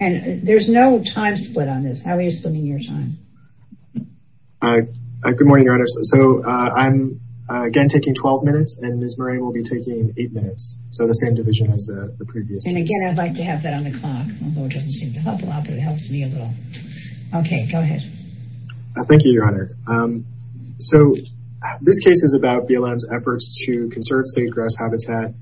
and there's no time split on this. How are you splitting your time? Good morning Your Honor. So I'm again taking 12 minutes and Ms. Moran will be taking eight minutes. So the same division as the previous. And again I'd like to have that on the clock, although it doesn't seem to help a lot, but it helps me a little. Okay, go ahead. Thank you Your Honor. So this case is about BLM's efforts to conserve sage-grouse habitat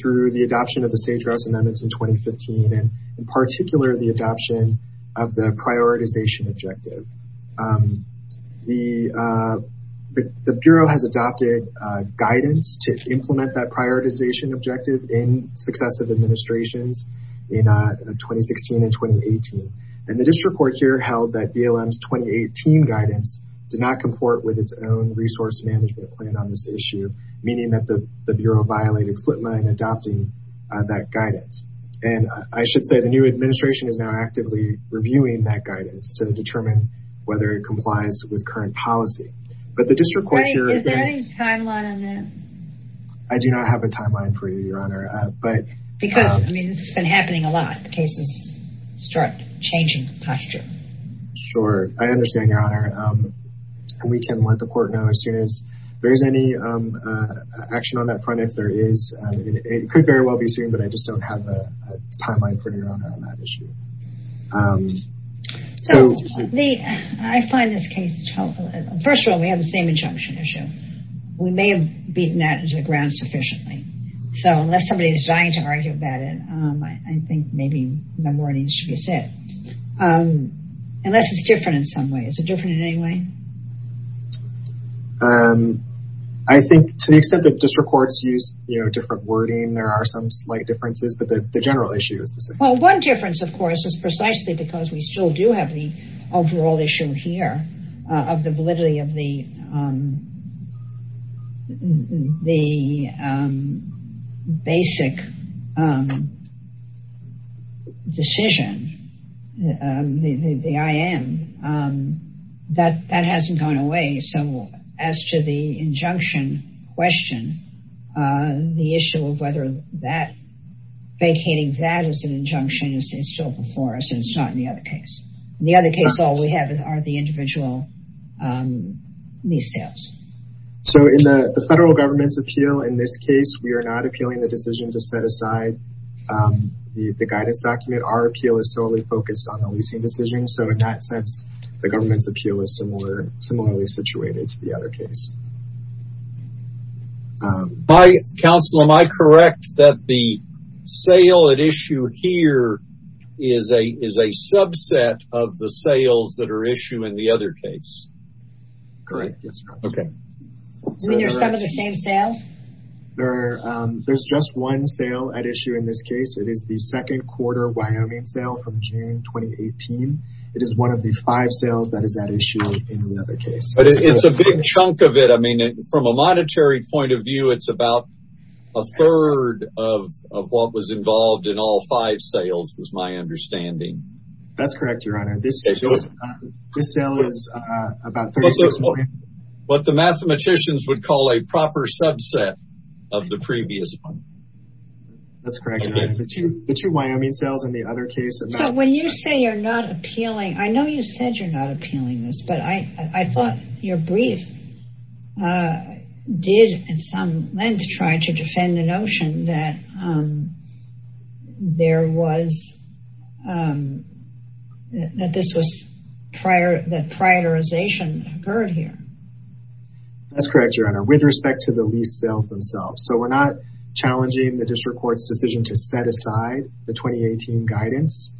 through the adoption of the sage-grouse amendments in 2015, and in particular the adoption of the prioritization objective. The Bureau has adopted guidance to implement that prioritization objective in successive administrations in 2016 and 2018. And the district court here held that BLM's 2018 guidance did not comport with its own resource management plan on this issue, meaning that the Bureau violated FLIPMA in adopting that guidance. And I should say the new administration is now actively reviewing that guidance to determine whether it complies with current policy. But the district court here... Is there any timeline on that? I do not have a timeline for you, Your Honor, but... Because, I mean, this has been happening a lot. The cases start changing posture. Sure, I don't know if there's any action on that front if there is. It could very well be soon, but I just don't have a timeline for you, Your Honor, on that issue. So I find this case... First of all, we have the same injunction issue. We may have beaten that to the ground sufficiently. So unless somebody is dying to argue about it, I think maybe no more needs to be said. Unless it's different in some way. Is it different in any way? I think to the extent that district courts use, you know, different wording, there are some slight differences, but the general issue is the same. Well, one difference, of course, is precisely because we still do have the overall issue here of the validity of the the basic decision, the IM, that hasn't gone away. So as to the injunction question, the issue of whether that vacating that as an injunction is still before us, and it's not in the other case. In the other case, all we have are the individual lease sales. So in the federal government's appeal, in this case, we are not appealing the decision to set aside the guidance document. Our appeal is solely focused on the leasing decision. So in that sense, the government's appeal is similarly situated to the other case. By counsel, am I correct that the sale at issue here is a subset of the sales that are issued in the other case? Correct. Yes. Okay. You mean you're some of the same sales? There's just one sale at issue in this case. It is the second quarter Wyoming sale from June 2018. It is one of the five sales that is at issue in the other case. But it's a big chunk of it. I mean, from a monetary point of view, it's about a third of what was involved in all five sales was my understanding. That's correct, your honor. This sale is about what the mathematicians would call a proper subset of the previous one. That's correct. The two Wyoming sales in the other case. When you say you're not appealing, I know you said you're not appealing this, but I thought your brief did, in some length, try to defend the notion that prioritization occurred here. That's correct, your honor, with respect to the lease sales themselves. So we're not challenging the district court's decision to set aside the 2018 guidance.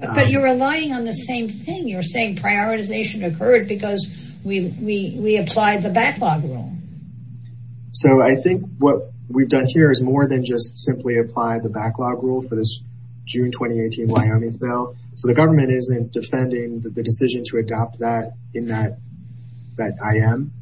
But you're relying on the same thing. You're saying prioritization occurred because we applied the backlog rule. So I think what we've done here is more than just simply apply the backlog rule for this June 2018 Wyoming sale. So the government isn't defending the decision to adopt that in that IM.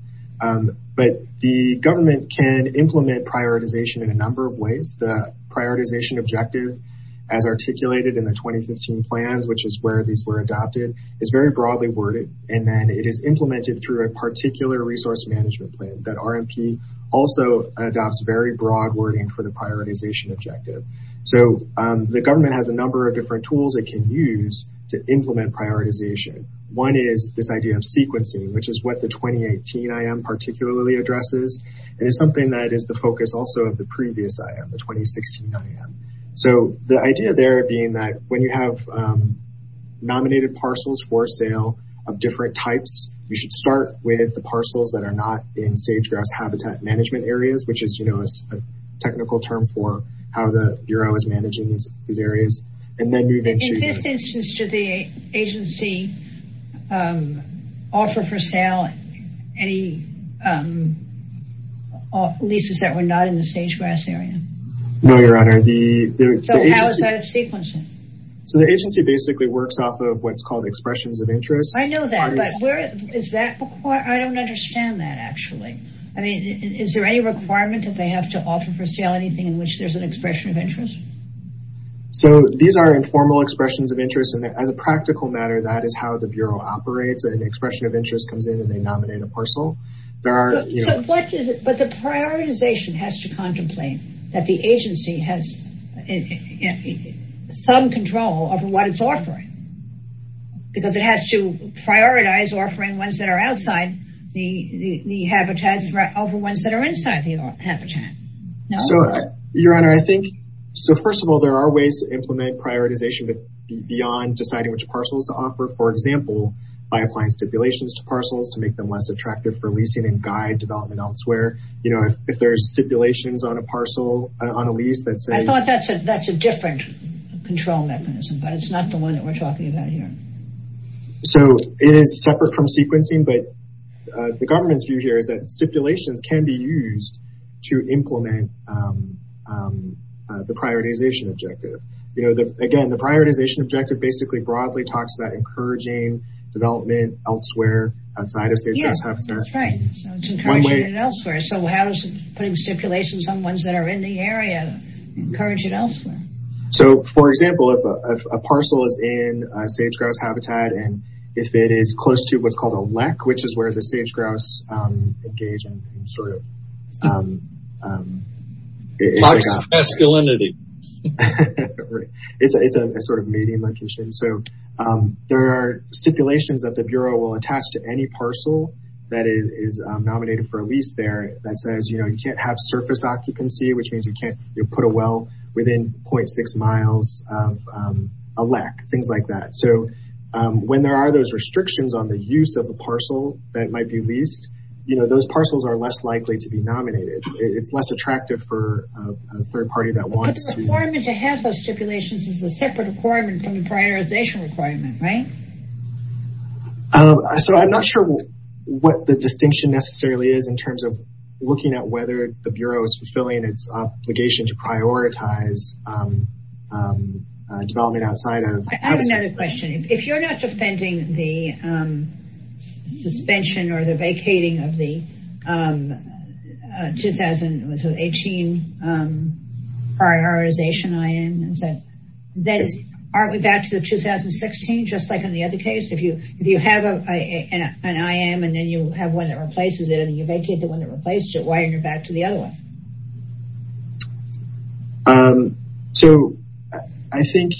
But the government can implement prioritization in a number of ways. The prioritization objective, as articulated in the 2015 plans, which is where these were adopted, is very broadly worded. And then it is implemented through a particular resource management plan that RMP also adopts very broad wording for the prioritization objective. So the government has a number of different tools it can use to implement prioritization. One is this idea of sequencing, which is what the 2018 IM particularly addresses. And it's something that is the focus also of the previous IM, the 2016 IM. So the idea there being that when you have nominated parcels for sale of different types, you should start with the parcels that are not in sage grass habitat management areas, which is a technical term for how the Bureau is managing these areas. In this instance, did the agency offer for sale any leases that were not in the sage grass area? No, Your Honor. So the agency basically works off of what's called expressions of interest. I know that, but I don't understand that, actually. I mean, is there any requirement that they have to offer for sale anything in which there's an expression of interest? So these are informal expressions of interest, and as a practical matter, that is how the Bureau operates. An expression of interest comes in and they nominate a parcel. But the prioritization has to contemplate that the agency has some control over what it's offering. Because it has to prioritize offering ones that are outside the habitats over ones that are inside the habitat. So, Your Honor, I think, so first of all, there are ways to implement prioritization, but beyond deciding which parcels to offer, for example, by applying stipulations to parcels to make them less attractive for leasing and guide development elsewhere. You know, if there's stipulations on a lease that say... I thought that's a different control mechanism, but it's not the one that we're talking about here. So, it is separate from sequencing, but the government's view here is that stipulations can be used to implement the prioritization objective. You know, again, the prioritization objective basically broadly talks about encouraging development elsewhere outside of sage-grouse habitat. Yes, that's right. It's encouraging it elsewhere. So how does putting stipulations on ones that are in the area encourage it elsewhere? So, for example, if a parcel is in sage-grouse habitat, and if it is close to what's called a lek, which is where the sage-grouse engage in sort of... It's masculinity. It's a sort of mating location. So, there are stipulations that the Bureau will attach to any parcel that is nominated for a lease there that says, you know, you can't have surface occupancy, which means you can't put a well within 0.6 miles of a lek, things like that. So, when there are those restrictions on the use of a parcel that might be leased, you know, those parcels are less likely to be nominated. It's less attractive for a third party that wants to... The requirement to have those stipulations is a separate requirement from the prioritization requirement, right? So, I'm not sure what the distinction necessarily is in terms of looking at whether the Bureau is fulfilling its obligation to prioritize development outside of... I have another question. If you're not defending the suspension or the vacating of the 2018 prioritization IM, then aren't we back to the 2016 just like in the other case? If you have an IM and then you have one that replaces it and you vacate the one that replaced it, why aren't you back to the other one? So, I think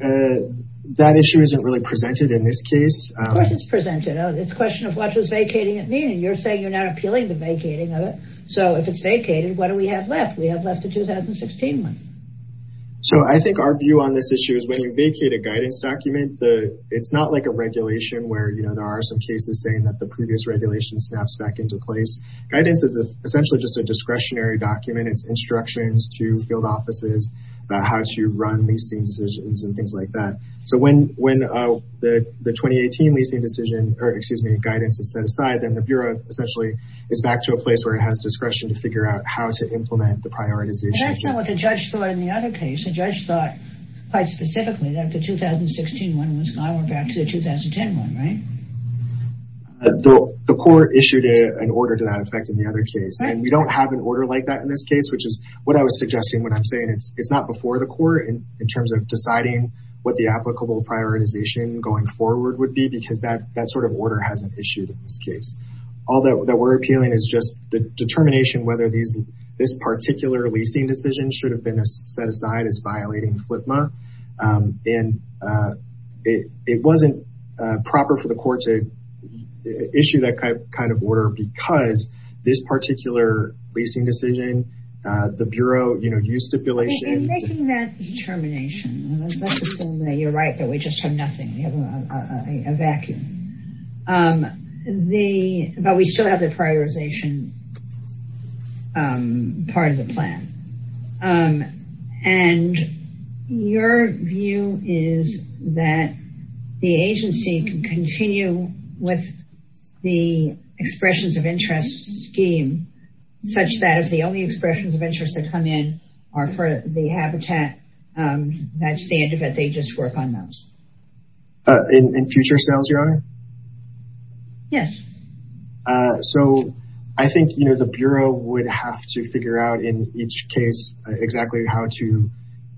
that issue isn't really presented in this case. Of course it's presented. It's a question of what does vacating it mean? And you're saying you're not appealing to vacating of it. So, if it's vacated, what do we have left? We have left the 2016 one. So, I think our view on this issue is when you vacate a guidance document, it's not like a regulation where, you know, there are some cases saying that the previous regulation snaps back into place. Guidance is essentially just a discretionary document. It's instructions to field offices about how to run leasing decisions and things like that. So, when the 2018 leasing decision or, excuse me, guidance is set aside, then the Bureau essentially is back to a place where it has discretion to figure out how to implement the prioritization. That's not what the judge thought in the other case. The judge thought quite specifically that the 2016 one was gone. We're back to the 2010 one, right? The court issued an order to that effect in the other case. And we don't have an order like that in this case, which is what I was suggesting when I'm saying it's not before the court in terms of deciding what the applicable prioritization going forward would be. Because that sort of order hasn't issued in this case. All that we're appealing is just the determination whether this particular leasing decision should have been set aside as violating FLIPMA. And it wasn't proper for the court to issue that kind of order because this particular leasing decision, the Bureau, you know, used stipulation. In making that determination, you're right that we just have nothing. We have a vacuum. But we still have the prioritization part of the plan. And your view is that the agency can continue with the expressions of interest scheme such that if the only expressions of interest that come in are for the habitat, that's the end of it. They just work on those. In future sales, Your Honor? Yes. So I think, you know, the Bureau would have to figure out in each case exactly how to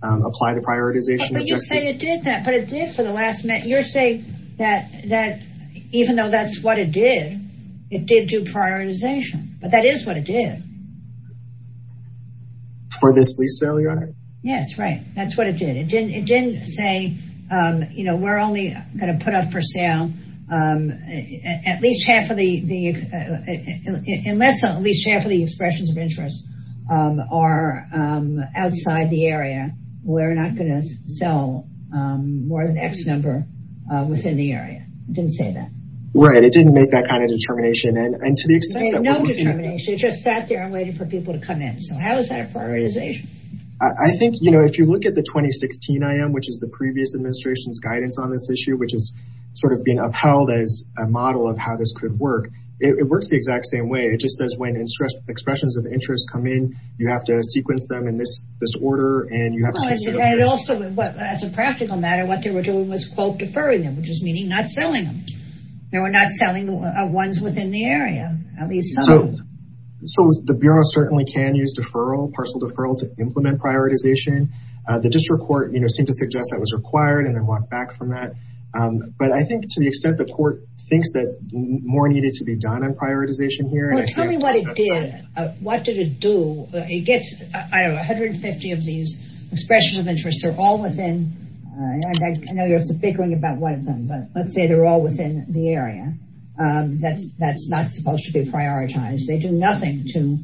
apply the prioritization. But you say it did that. But it did for the last minute. You're saying that even though that's what it did, it did do prioritization. But that is what it did. For this lease sale, Your Honor? Yes, right. That's what it did. It didn't say, you know, we're only going to put up for sale at least half of the expressions of interest are outside the area. We're not going to sell more than X number within the area. It didn't say that. Right. It didn't make that kind of determination. And to the extent that we can. No determination. It just sat there and waited for people to come in. So how is that prioritization? I think, you know, if you look at the 2016 IM, which is the previous administration's guidance on this issue, which is sort of being upheld as a model of how this could work. It works the exact same way. It just says when expressions of interest come in, you have to sequence them in this order. And you have to consider. And also, as a practical matter, what they were doing was, quote, deferring them, which is meaning not selling them. They were not selling ones within the area. So the Bureau certainly can use deferral, parcel deferral to implement prioritization. The district court, you know, seemed to suggest that was required and then walked back from that. But I think to the extent the court thinks that more needed to be done on prioritization here. Well, tell me what it did. What did it do? It gets 150 of these expressions of interest. They're all within. I know you're figuring about one of them, but let's say they're all within the area. That's that's not supposed to be prioritized. They do nothing to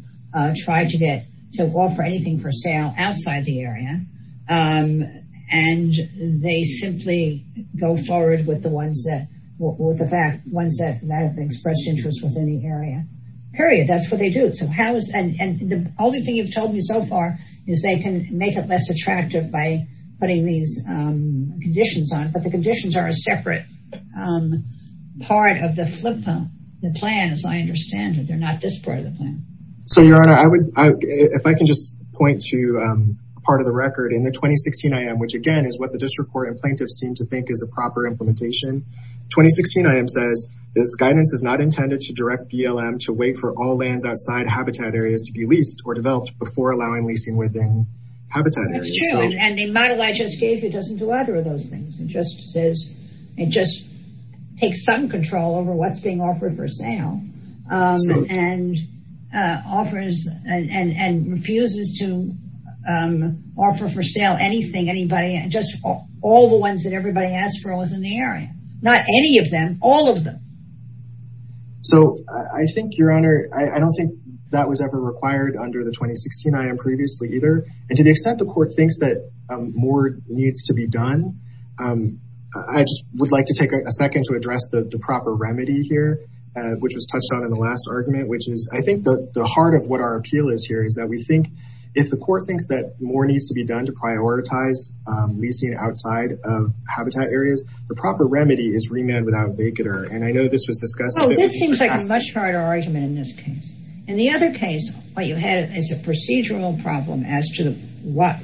try to get to offer anything for sale outside the area. And they simply go forward with the ones that were the ones that have expressed interest within the area. Period. That's what they do. So how is and the only thing you've told me so far is they can make it less attractive by putting these conditions on. The conditions are a separate part of the flip phone. The plan, as I understand it, they're not this part of the plan. So, Your Honor, I would if I can just point to part of the record in the 2016 I.M., which, again, is what the district court and plaintiffs seem to think is a proper implementation. 2016 I.M. says this guidance is not intended to direct BLM to wait for all lands outside habitat areas to be leased or developed before allowing leasing within habitat. And the model I just gave you doesn't do either of those things. It just says it just takes some control over what's being offered for sale and offers and refuses to offer for sale anything, anybody and just all the ones that everybody asked for was in the area. Not any of them, all of them. So I think, Your Honor, I don't think that was ever required under the 2016 I.M. And to the extent the court thinks that more needs to be done, I just would like to take a second to address the proper remedy here, which was touched on in the last argument, which is I think the heart of what our appeal is here is that we think if the court thinks that more needs to be done to prioritize leasing outside of habitat areas, the proper remedy is remand without vacater. And I know this was discussed. Oh, this seems like a much harder argument in this case. In the other case, what you had is a procedural problem as to what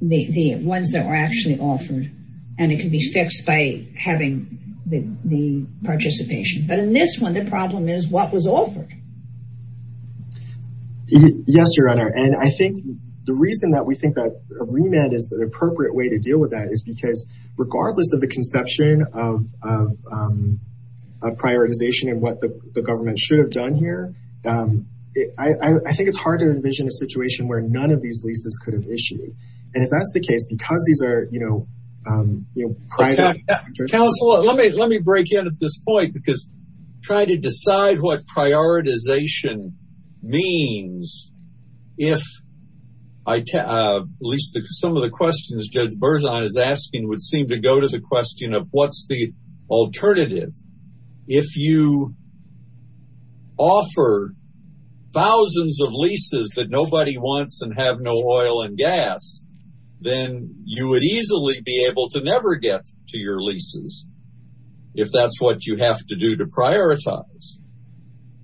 the ones that were actually offered. And it can be fixed by having the participation. But in this one, the problem is what was offered. Yes, Your Honor. And I think the reason that we think that remand is an appropriate way to deal with that is because regardless of the conception of a prioritization and what the government should have done here, I think it's hard to envision a situation where none of these leases could have issued. And if that's the case, because these are, you know, private. Counselor, let me break in at this point, because try to decide what prioritization means if at least some of the questions Judge Berzon is asking would seem to go to the question of what's the alternative. If you offer thousands of leases that nobody wants and have no oil and gas, then you would easily be able to never get to your leases if that's what you have to do to prioritize.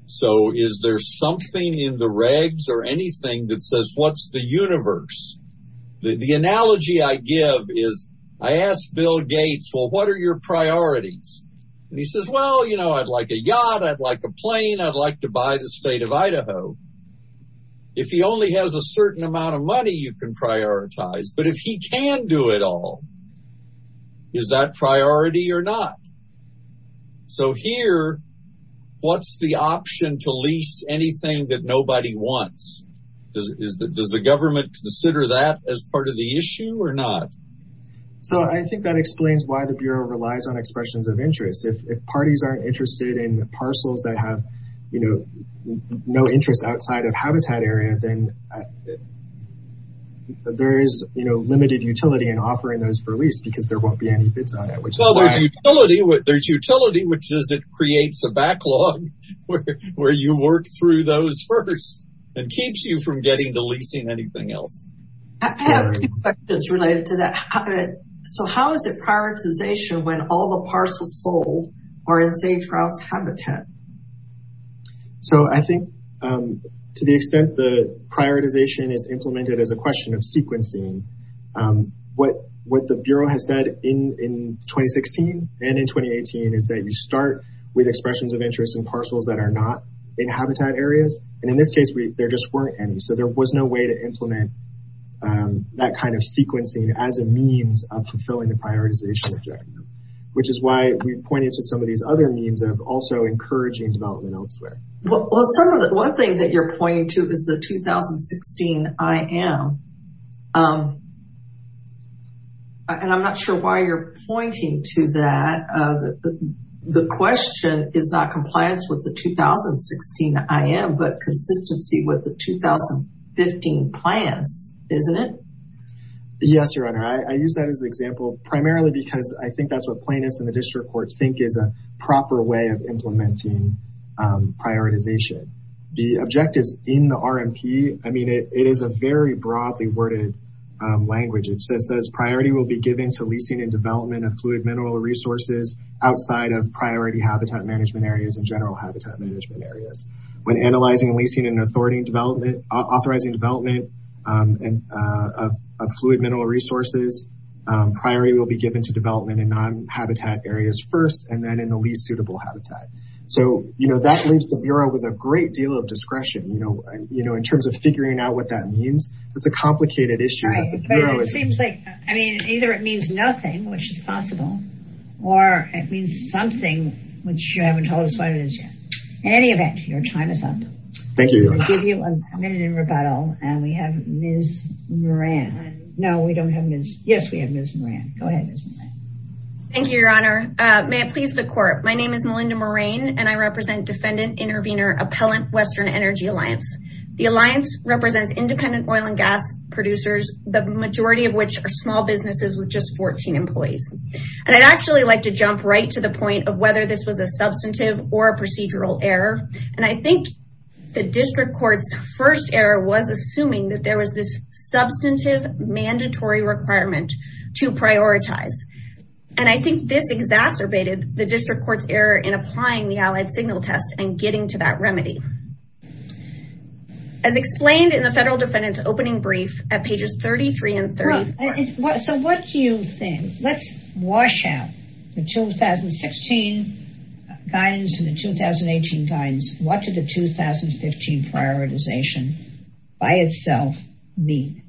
So is there something in the regs or anything that says what's the universe? The analogy I give is I asked Bill Gates, well, what are your priorities? And he says, well, you know, I'd like a yacht, I'd like a plane, I'd like to buy the state of Idaho. If he only has a certain amount of money, you can prioritize. But if he can do it all, is that priority or not? So here, what's the option to lease anything that nobody wants? Does the government consider that as part of the issue or not? So I think that explains why the Bureau relies on expressions of interest. If parties aren't interested in parcels that have, you know, no interest outside of habitat area, then there is, you know, limited utility in offering those for lease, because there won't be any bids on it. There's utility, which is it creates a backlog where you work through those first. It keeps you from getting to leasing anything else. I have two questions related to that. So how is it prioritization when all the parcels sold are in safe grouse habitat? So I think to the extent the prioritization is implemented as a question of sequencing, what the Bureau has said in 2016 and in 2018 is that you start with expressions of interest in parcels that are not in habitat areas. And in this case, there just weren't any. So there was no way to implement that kind of sequencing as a means of fulfilling the prioritization objective, which is why we've pointed to some of these other means of also encouraging development elsewhere. Well, one thing that you're pointing to is the 2016 IM. And I'm not sure why you're pointing to that. The question is not compliance with the 2016 IM, but consistency with the 2015 plans, isn't it? Yes, Your Honor. I use that as an example, primarily because I think that's what plaintiffs in the district court think is a proper way of implementing prioritization. The objectives in the RMP, I mean, it is a very broadly worded language. Priority will be given to leasing and development of fluid mineral resources outside of priority habitat management areas and general habitat management areas. When analyzing leasing and authorizing development of fluid mineral resources, priority will be given to development in non-habitat areas first and then in the least suitable habitat. So that leaves the Bureau with a great deal of discretion. In terms of figuring out what that means, it's a complicated issue. Seems like, I mean, either it means nothing, which is possible, or it means something, which you haven't told us what it is yet. In any event, your time is up. Thank you. We'll give you a minute in rebuttal. And we have Ms. Moran. No, we don't have Ms. Yes, we have Ms. Moran. Go ahead. Thank you, Your Honor. May it please the court. My name is Melinda Moran, and I represent Defendant Intervenor Appellant Western Energy Alliance. The alliance represents independent oil and gas producers, the majority of which are small businesses with just 14 employees. And I'd actually like to jump right to the point of whether this was a substantive or a procedural error. And I think the district court's first error was assuming that there was this substantive mandatory requirement to prioritize. And I think this exacerbated the district court's error in applying the Allied Signal Test and getting to that remedy. As explained in the federal defendant's opening brief at pages 33 and 34. So what do you think? Let's wash out the 2016 guidance and the 2018 guidance. What did the 2015 prioritization by itself mean?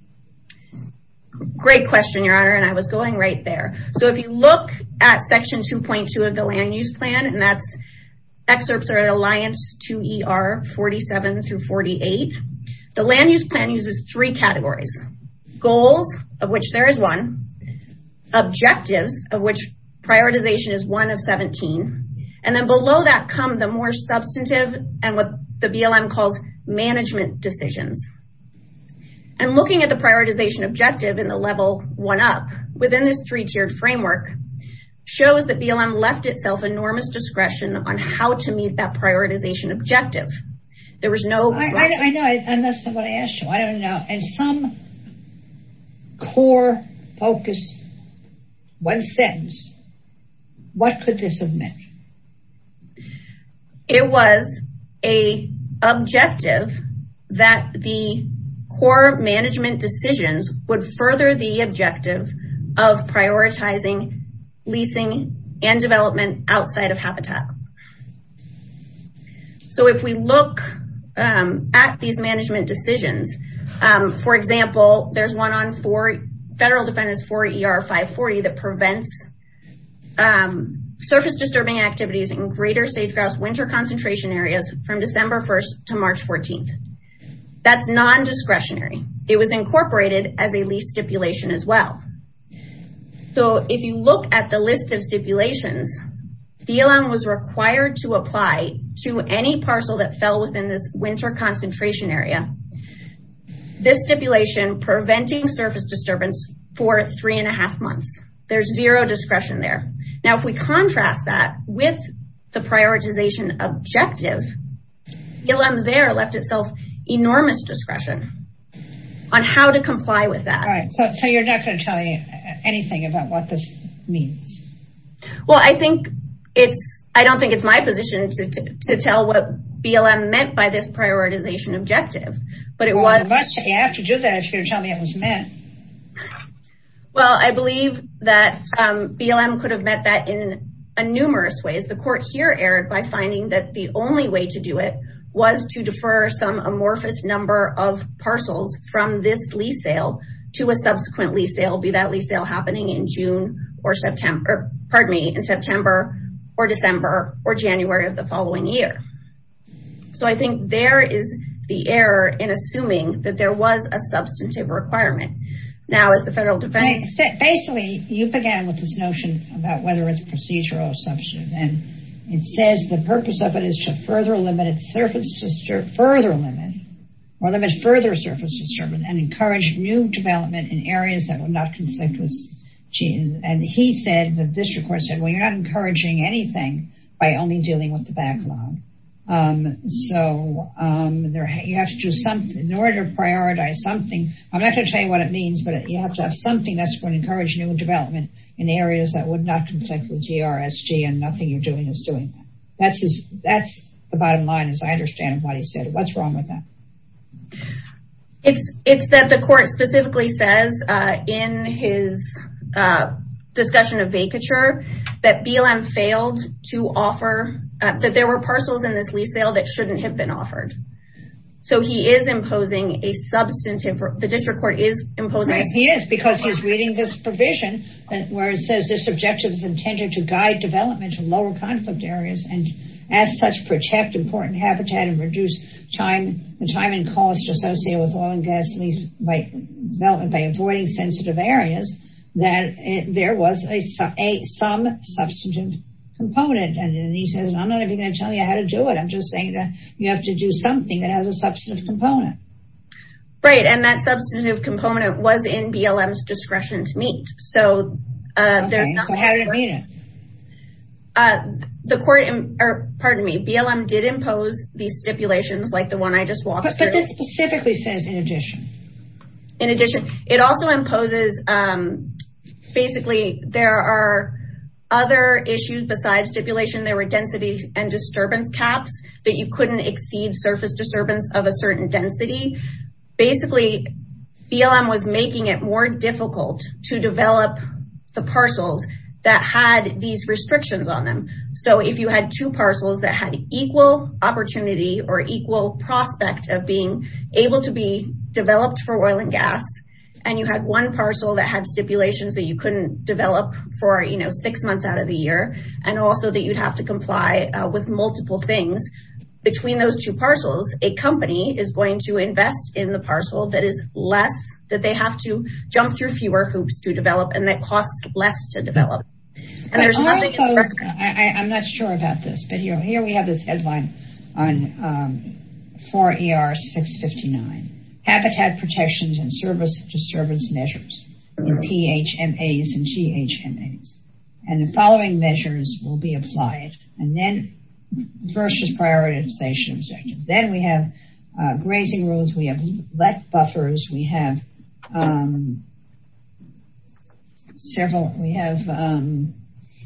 Great question, Your Honor, and I was going right there. So if you look at section 2.2 of the land use plan, and that's Alliance 2ER 47 through 48, the land use plan uses three categories. Goals, of which there is one. Objectives, of which prioritization is one of 17. And then below that come the more substantive and what the BLM calls management decisions. And looking at the prioritization objective in the level one up within this three-tiered that prioritization objective. There was no... I know, and that's not what I asked you. I don't know. And some core focus, one sentence, what could this have meant? It was a objective that the core management decisions would further the objective of prioritizing leasing and development outside of habitat. So if we look at these management decisions, for example, there's one on federal defendants 4ER 540 that prevents surface disturbing activities in greater sage-grouse winter concentration areas from December 1st to March 14th. That's non-discretionary. It was incorporated as a lease stipulation as well. So if you look at the list of stipulations, BLM was required to apply to any parcel that fell within this winter concentration area. This stipulation preventing surface disturbance for three and a half months. There's zero discretion there. Now, if we contrast that with the prioritization objective, BLM there left itself enormous discretion on how to comply with that. So you're not going to tell me anything about what this means? Well, I don't think it's my position to tell what BLM meant by this prioritization objective, but it was. Well, you have to do that if you're going to tell me it was meant. Well, I believe that BLM could have meant that in numerous ways. The court here erred by finding that the only way to do it was to defer some amorphous number of parcels from this lease sale to a subsequent lease sale, be that lease sale happening in June or September, pardon me, in September or December or January of the following year. So I think there is the error in assuming that there was a substantive requirement. Now, as the federal defense. Basically, you began with this notion about whether it's procedural or substantive, and says the purpose of it is to further limit or limit further surface disturbance and encourage new development in areas that would not conflict with GRSG. And he said, the district court said, well, you're not encouraging anything by only dealing with the backlog. So you have to do something in order to prioritize something. I'm not going to tell you what it means, but you have to have something that's going to encourage new development in areas that would not conflict with GRSG and nothing you're doing is doing that. That's the bottom line, as I understand what he said. What's wrong with that? It's that the court specifically says in his discussion of vacature that BLM failed to offer, that there were parcels in this lease sale that shouldn't have been offered. So he is imposing a substantive, the district court is imposing. He is because he's reading this provision where it says this objective is intended to lower conflict areas and as such, protect important habitat and reduce time and cost associated with oil and gasoline development by avoiding sensitive areas, that there was some substantive component. And he says, I'm not even going to tell you how to do it. I'm just saying that you have to do something that has a substantive component. Right. And that substantive component was in BLM's discretion to meet. So how did it meet it? The court, pardon me, BLM did impose these stipulations like the one I just walked through. But this specifically says in addition. In addition, it also imposes, basically, there are other issues besides stipulation. There were densities and disturbance caps that you couldn't exceed surface disturbance of a certain density. Basically, BLM was making it more difficult to develop the parcels that had these restrictions on them. So if you had two parcels that had equal opportunity or equal prospect of being able to be developed for oil and gas, and you had one parcel that had stipulations that you couldn't develop for six months out of the year, and also that you'd have to comply with multiple things between those two parcels, a company is going to invest in the parcel that is less that they have to jump through fewer hoops to develop and that costs less to develop. And there's nothing. I'm not sure about this, but here we have this headline on 4ER659, Habitat Protections and Service Disturbance Measures, PHMAs and GHMAs. And the following measures will be applied. And then first is prioritization objectives. Then we have grazing rules. We have let buffers. We have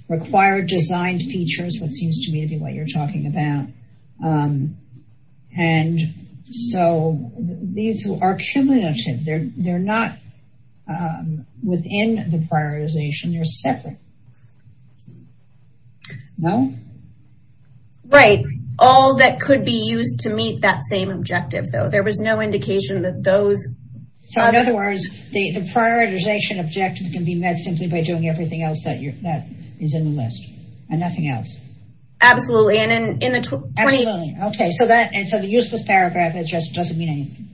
required design features, what seems to me to be what you're talking about. And so these are cumulative. They're not within the prioritization. They're separate. No? Right. All that could be used to meet that same objective, though. There was no indication that those... So in other words, the prioritization objective can be met simply by doing everything else that is in the list and nothing else. Absolutely. And in the... Absolutely. Okay. And so the useless paragraph, it just doesn't mean anything.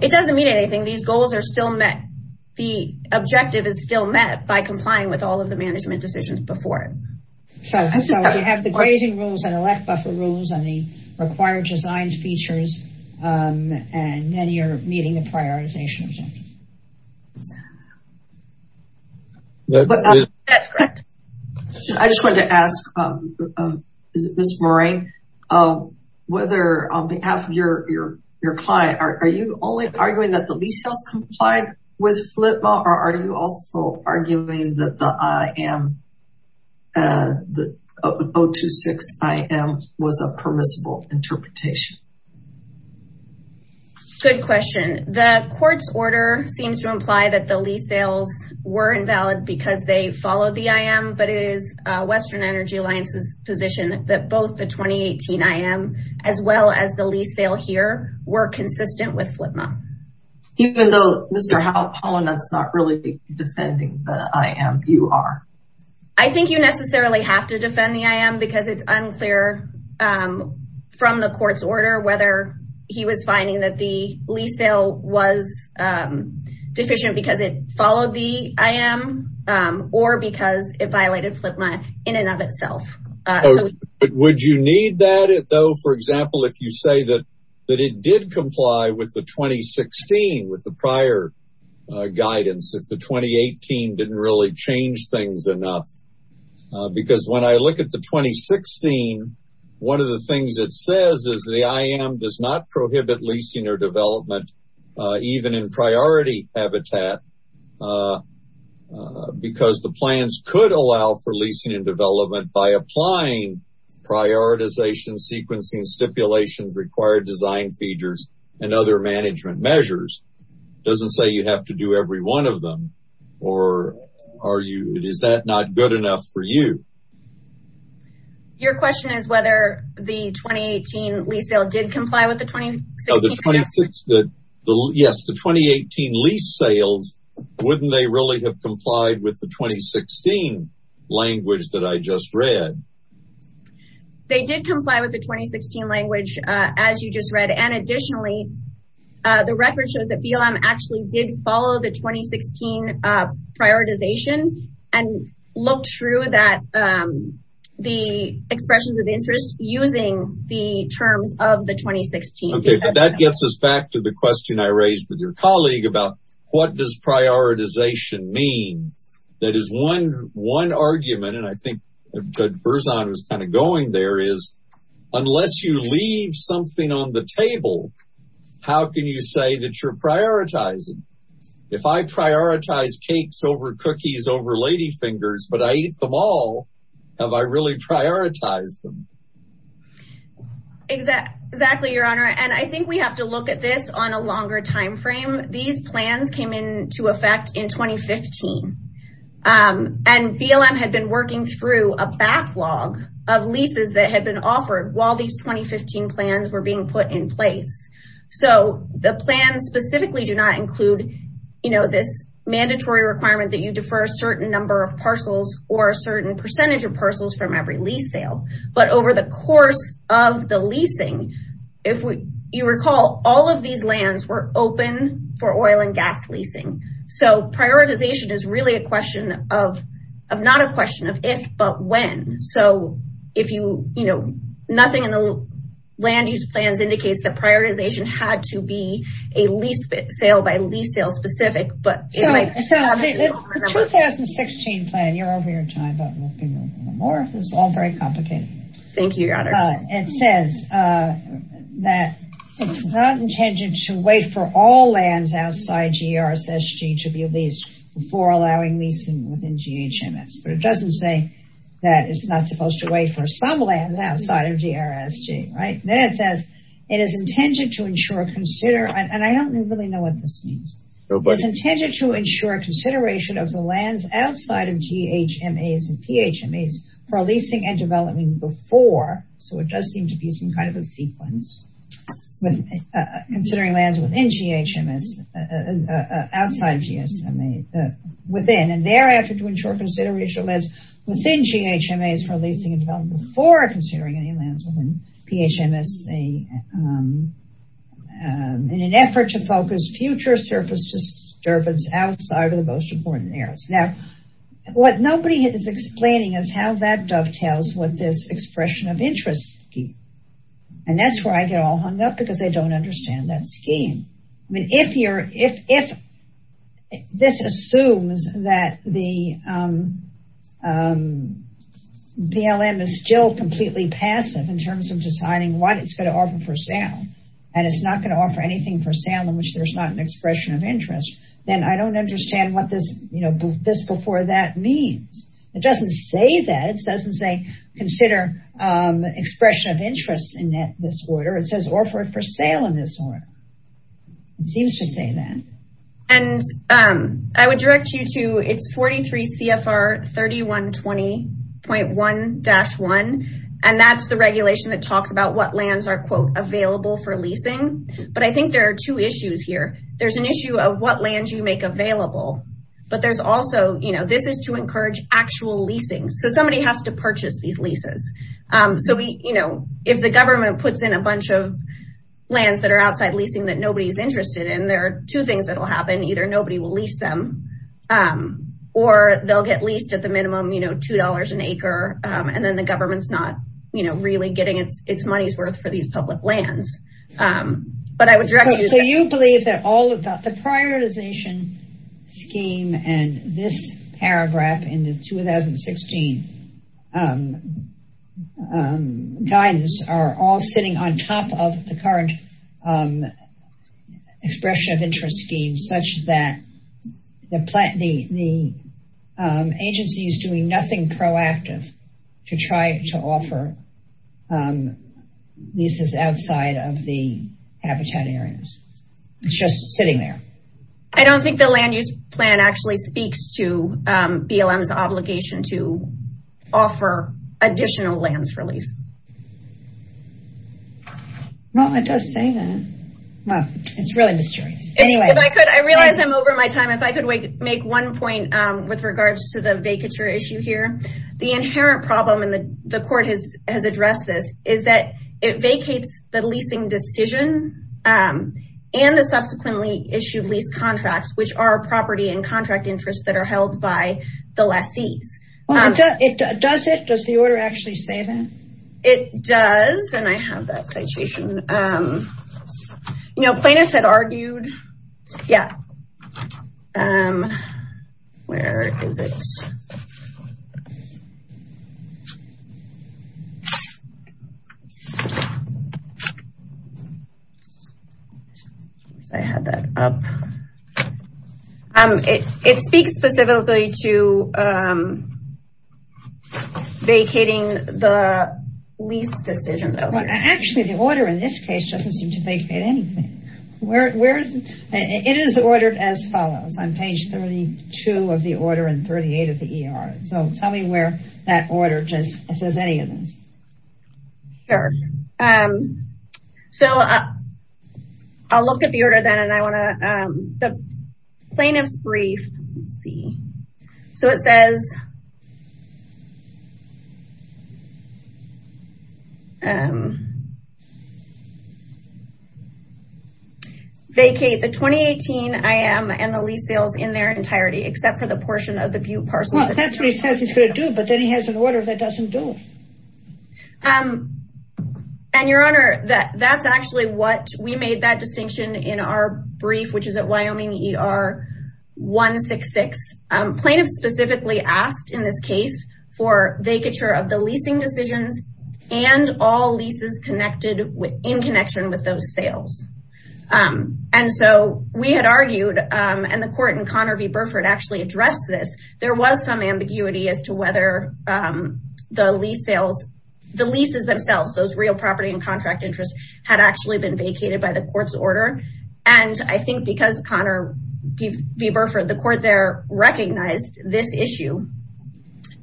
It doesn't mean anything. These goals are still met. The objective is still met by complying with all of the management decisions before. So you have the grazing rules and elect buffer rules and the required design features. And then you're meeting the prioritization objective. I just wanted to ask, Ms. Moran, whether on behalf of your client, are you only arguing that the lease sells complied with FLPA or are you also arguing that the IAM the 026 IAM was a permissible interpretation? Good question. The court's order seems to imply that the lease sales were invalid because they followed the IAM, but it is Western Energy Alliance's position that both the 2018 IAM as well as the lease sale here were consistent with FLPA. Even though Mr. Halpolin is not really defending the IAM, you are? I think you necessarily have to defend the IAM because it's unclear from the court's order whether he was finding that the lease sale was deficient because it followed the IAM or because it violated FLPA in and of itself. But would you need that though, for example, if you say that it did comply with the 2016 with the prior guidance, if the 2018 didn't really change things enough? Because when I look at the 2016, one of the things it says is the IAM does not prohibit leasing or development even in priority habitat because the plans could allow for leasing and development by applying prioritization, sequencing, stipulations, required design features, and other management measures. It doesn't say you have to do every one of them. Or is that not good enough for you? Your question is whether the 2018 lease sale did comply with the 2016? Yes, the 2018 lease sales, wouldn't they really have complied with the 2016 language that I just read? They did comply with the 2016 language, as you just read. And additionally, the record shows that BLM actually did follow the 2016 prioritization and looked through the expressions of interest using the terms of the 2016. Okay, but that gets us back to the question I raised with your colleague about what does prioritization mean? That is one argument, and I think Judge Berzon was kind of going there, is unless you leave something on the table, how can you say that you're prioritizing? If I prioritize cakes over cookies over ladyfingers, but I eat them all, have I really prioritized them? Exactly, Your Honor. And I think we have to look at this on a longer time frame. These plans came into effect in 2015, and BLM had been working through a backlog of leases that had been offered while these 2015 plans were being put in place. So, the plans specifically do not include this mandatory requirement that you defer a certain number of parcels or a certain percentage of parcels from every lease sale. But over the course of the leasing, if you recall, all of these lands were open for oil and gas leasing. So, prioritization is really a question of not a question of if, but when. So, nothing in the land use plans indicates that prioritization had to be a lease sale by lease sale specific. So, the 2016 plan, you're over your time, but we'll be moving on. It's all very complicated. Thank you, Your Honor. It says that it's not intended to wait for all lands outside GRSG to be leased before allowing leasing within GHMS. But it doesn't say that it's not supposed to wait for some lands outside of GRSG, right? Then it says it is intended to ensure, consider, and I don't really know what this means. It's intended to ensure consideration of the lands outside of GHMAs and PHMAs for leasing and development before. So, it does seem to be some kind of a sequence, considering lands within GHMS, outside of GSMA, within. And thereafter, to ensure consideration of lands within GHMAs for leasing and development for considering any lands within GHMAs in an effort to focus future surface disturbance outside of the most important areas. Now, what nobody is explaining is how that dovetails with this expression of interest scheme. And that's where I get all hung up, because they don't understand that scheme. If this assumes that the BLM is still completely passive in terms of deciding what it's going to offer for sale, and it's not going to offer anything for sale in which there's not an expression of interest, then I don't understand what this before that means. It doesn't say that. It doesn't say consider expression of interest in this order. It says offer for sale in this order. It seems to say that. And I would direct you to, it's 43 CFR 3120.1-1, and that's the regulation that talks about what lands are, quote, available for leasing. But I think there are two issues here. There's an issue of what lands you make available. But there's also, you know, this is to encourage actual leasing. So, somebody has to purchase these leases. So, we, you know, if the government puts in a bunch of lands that are outside leasing that nobody's interested in, there are two things that will happen. Either nobody will lease them, or they'll get leased at the minimum, you know, $2 an acre. And then the government's not, you know, really getting its money's worth for these public lands. But I would direct you. So, you believe that all of that, the prioritization scheme and this paragraph in the 2016 guidance are all sitting on top of the current expression of interest scheme such that the agency is doing nothing proactive to try to offer leases outside of the habitat areas. It's just sitting there. I don't think the land use plan actually speaks to BLM's obligation to offer additional lands for lease. Well, it does say that. Well, it's really mysterious. Anyway, if I could, I realize I'm over my time. If I could make one point with regards to the vacature issue here. The inherent problem, and the court has addressed this, is that it vacates the leasing decision and the subsequently issued lease contracts, which are property and contract interests that are held by the lessees. Does it? Does the order actually say that? It does. And I have that citation. You know, Plaintiffs had argued, yeah. Where is it? Oops, I had that up. It speaks specifically to vacating the lease decisions out here. Actually, the order in this case doesn't seem to vacate anything. It is ordered as follows on page 32 of the order and 38 of the ER. So tell me where that order says any of this. Sure. Um, so I'll look at the order then and I want to, um, the plaintiff's brief. Let's see. So it says, um, vacate the 2018 IM and the lease sales in their entirety, except for the portion of the butte parcel. Well, that's what he says he's going to do, but then he has an order that doesn't do it. Um, and Your Honor, that's actually what we made that distinction in our brief, which is at Wyoming ER 166. Plaintiffs specifically asked in this case for vacature of the leasing decisions and all leases connected with, in connection with those sales. Um, and so we had argued, um, and the court in Conner v. Burford actually addressed this. There was some ambiguity as to whether, um, the lease sales, the leases themselves, those real property and contract interests had actually been vacated by the court's order. And I think because Conner v. Burford, the court there recognized this issue,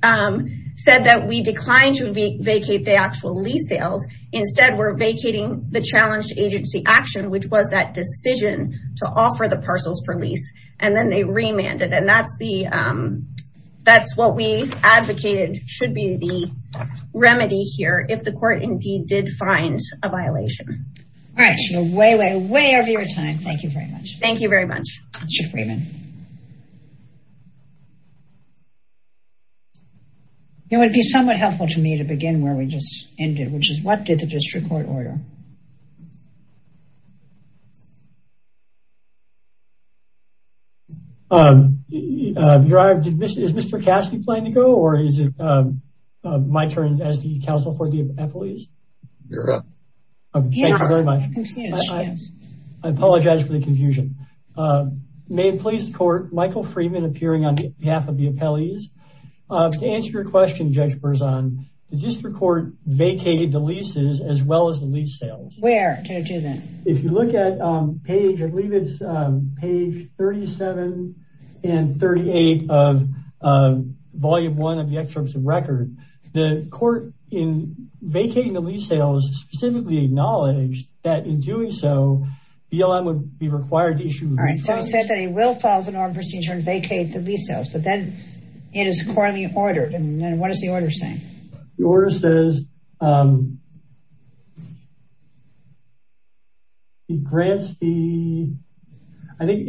um, said that we declined to vacate the actual lease sales. Instead, we're vacating the challenge agency action, which was that decision to offer the parcels for lease. And then they remanded. And that's the, um, that's what we advocated should be the remedy here. If the court indeed did find a violation. All right. You're way, way, way over your time. Thank you very much. Thank you very much. It would be somewhat helpful to me to begin where we just ended, which is what did the um, is Mr. Cassidy planning to go or is it, um, my turn as the counsel for the appellees? You're up. Thank you very much. I apologize for the confusion. May it please the court, Michael Freeman appearing on behalf of the appellees. To answer your question, Judge Berzon, the district court vacated the leases as well as the lease sales. Where can I do that? If you look at, um, page, I believe it's, um, page 37 and 38 of, um, volume one of the excerpts of record, the court in vacating the lease sales specifically acknowledged that in doing so BLM would be required to issue. All right. So he said that he will follow the norm procedure and vacate the lease sales, but then it is currently ordered. And then what does the order say? The order says, um, he grants the, I think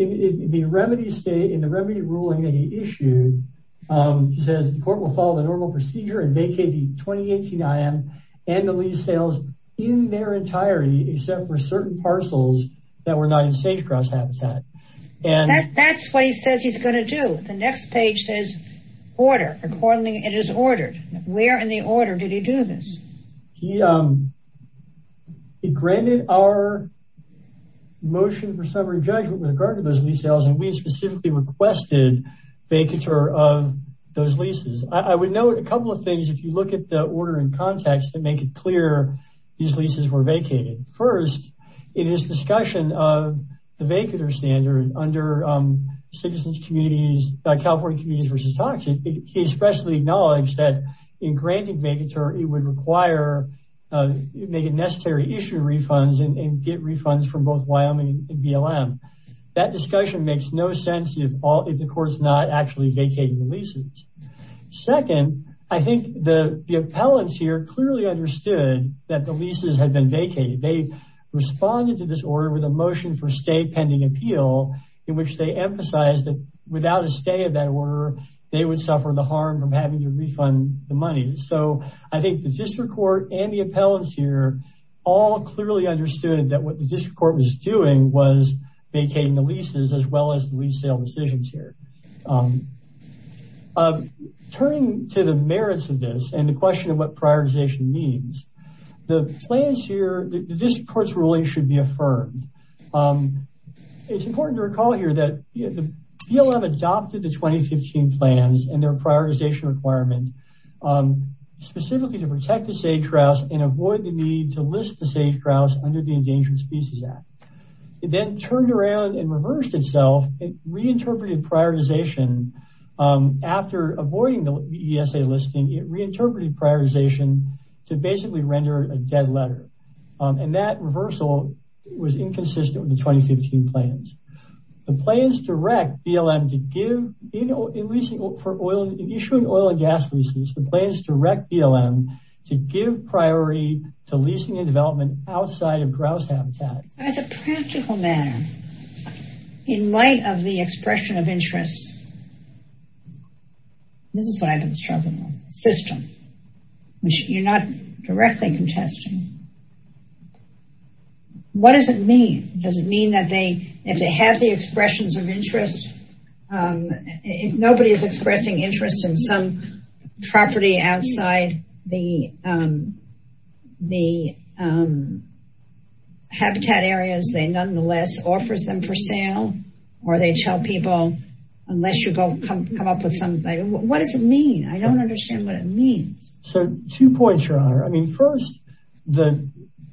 the remedy state in the remedy ruling that he issued, um, he says the court will follow the normal procedure and vacate the 2018 IM and the lease sales in their entirety, except for certain parcels that were not in sage grass habitat. That's what he says he's going to do. The next page says order. Accordingly, it is ordered. Where in the order did he do this? He, um, he granted our motion for summary judgment with regard to those lease sales. And we specifically requested vacature of those leases. I would note a couple of things. If you look at the order in context that make it clear these leases were vacated. First, in his discussion of the vacater standard under, um, citizens communities, California communities versus toxin. He especially acknowledged that in granting vacater, it would require, uh, make a necessary issue refunds and get refunds from both Wyoming and BLM. That discussion makes no sense if all, if the court's not actually vacating the leases. Second, I think the, the appellants here clearly understood that the leases had been vacated. They responded to this order with a motion for stay pending appeal in which they emphasize that without a stay of that order, they would suffer the harm from having to refund the money. So I think the district court and the appellants here all clearly understood that what the district court was doing was vacating the leases as well as the lease sale decisions here, um, um, turning to the merits of this and the question of what prioritization means the plans here, the district court's ruling should be affirmed. Um, it's important to recall here that the BLM adopted the 2015 plans and their prioritization requirement, um, specifically to protect the sage grouse and avoid the need to list the sage grouse under the endangered species act. It then turned around and reversed itself. It reinterpreted prioritization, um, after avoiding the ESA listing, it reinterpreted prioritization to basically render a dead letter. Um, and that reversal was inconsistent with the 2015 plans. The plans direct BLM to give, you know, in leasing for oil and gas leases, the plans direct BLM to give priority to leasing and development outside of grouse habitat. As a practical matter, in light of the expression of interests, this is what I've been struggling with, system, which you're not directly contesting. Um, what does it mean? Does it mean that they, if they have the expressions of interest, um, if nobody is expressing interest in some property outside the, um, the, um, habitat areas, they nonetheless offers them for sale or they tell people, unless you go come, come up with something. What does it mean? I don't understand what it means. So two points, your honor. I mean, first, the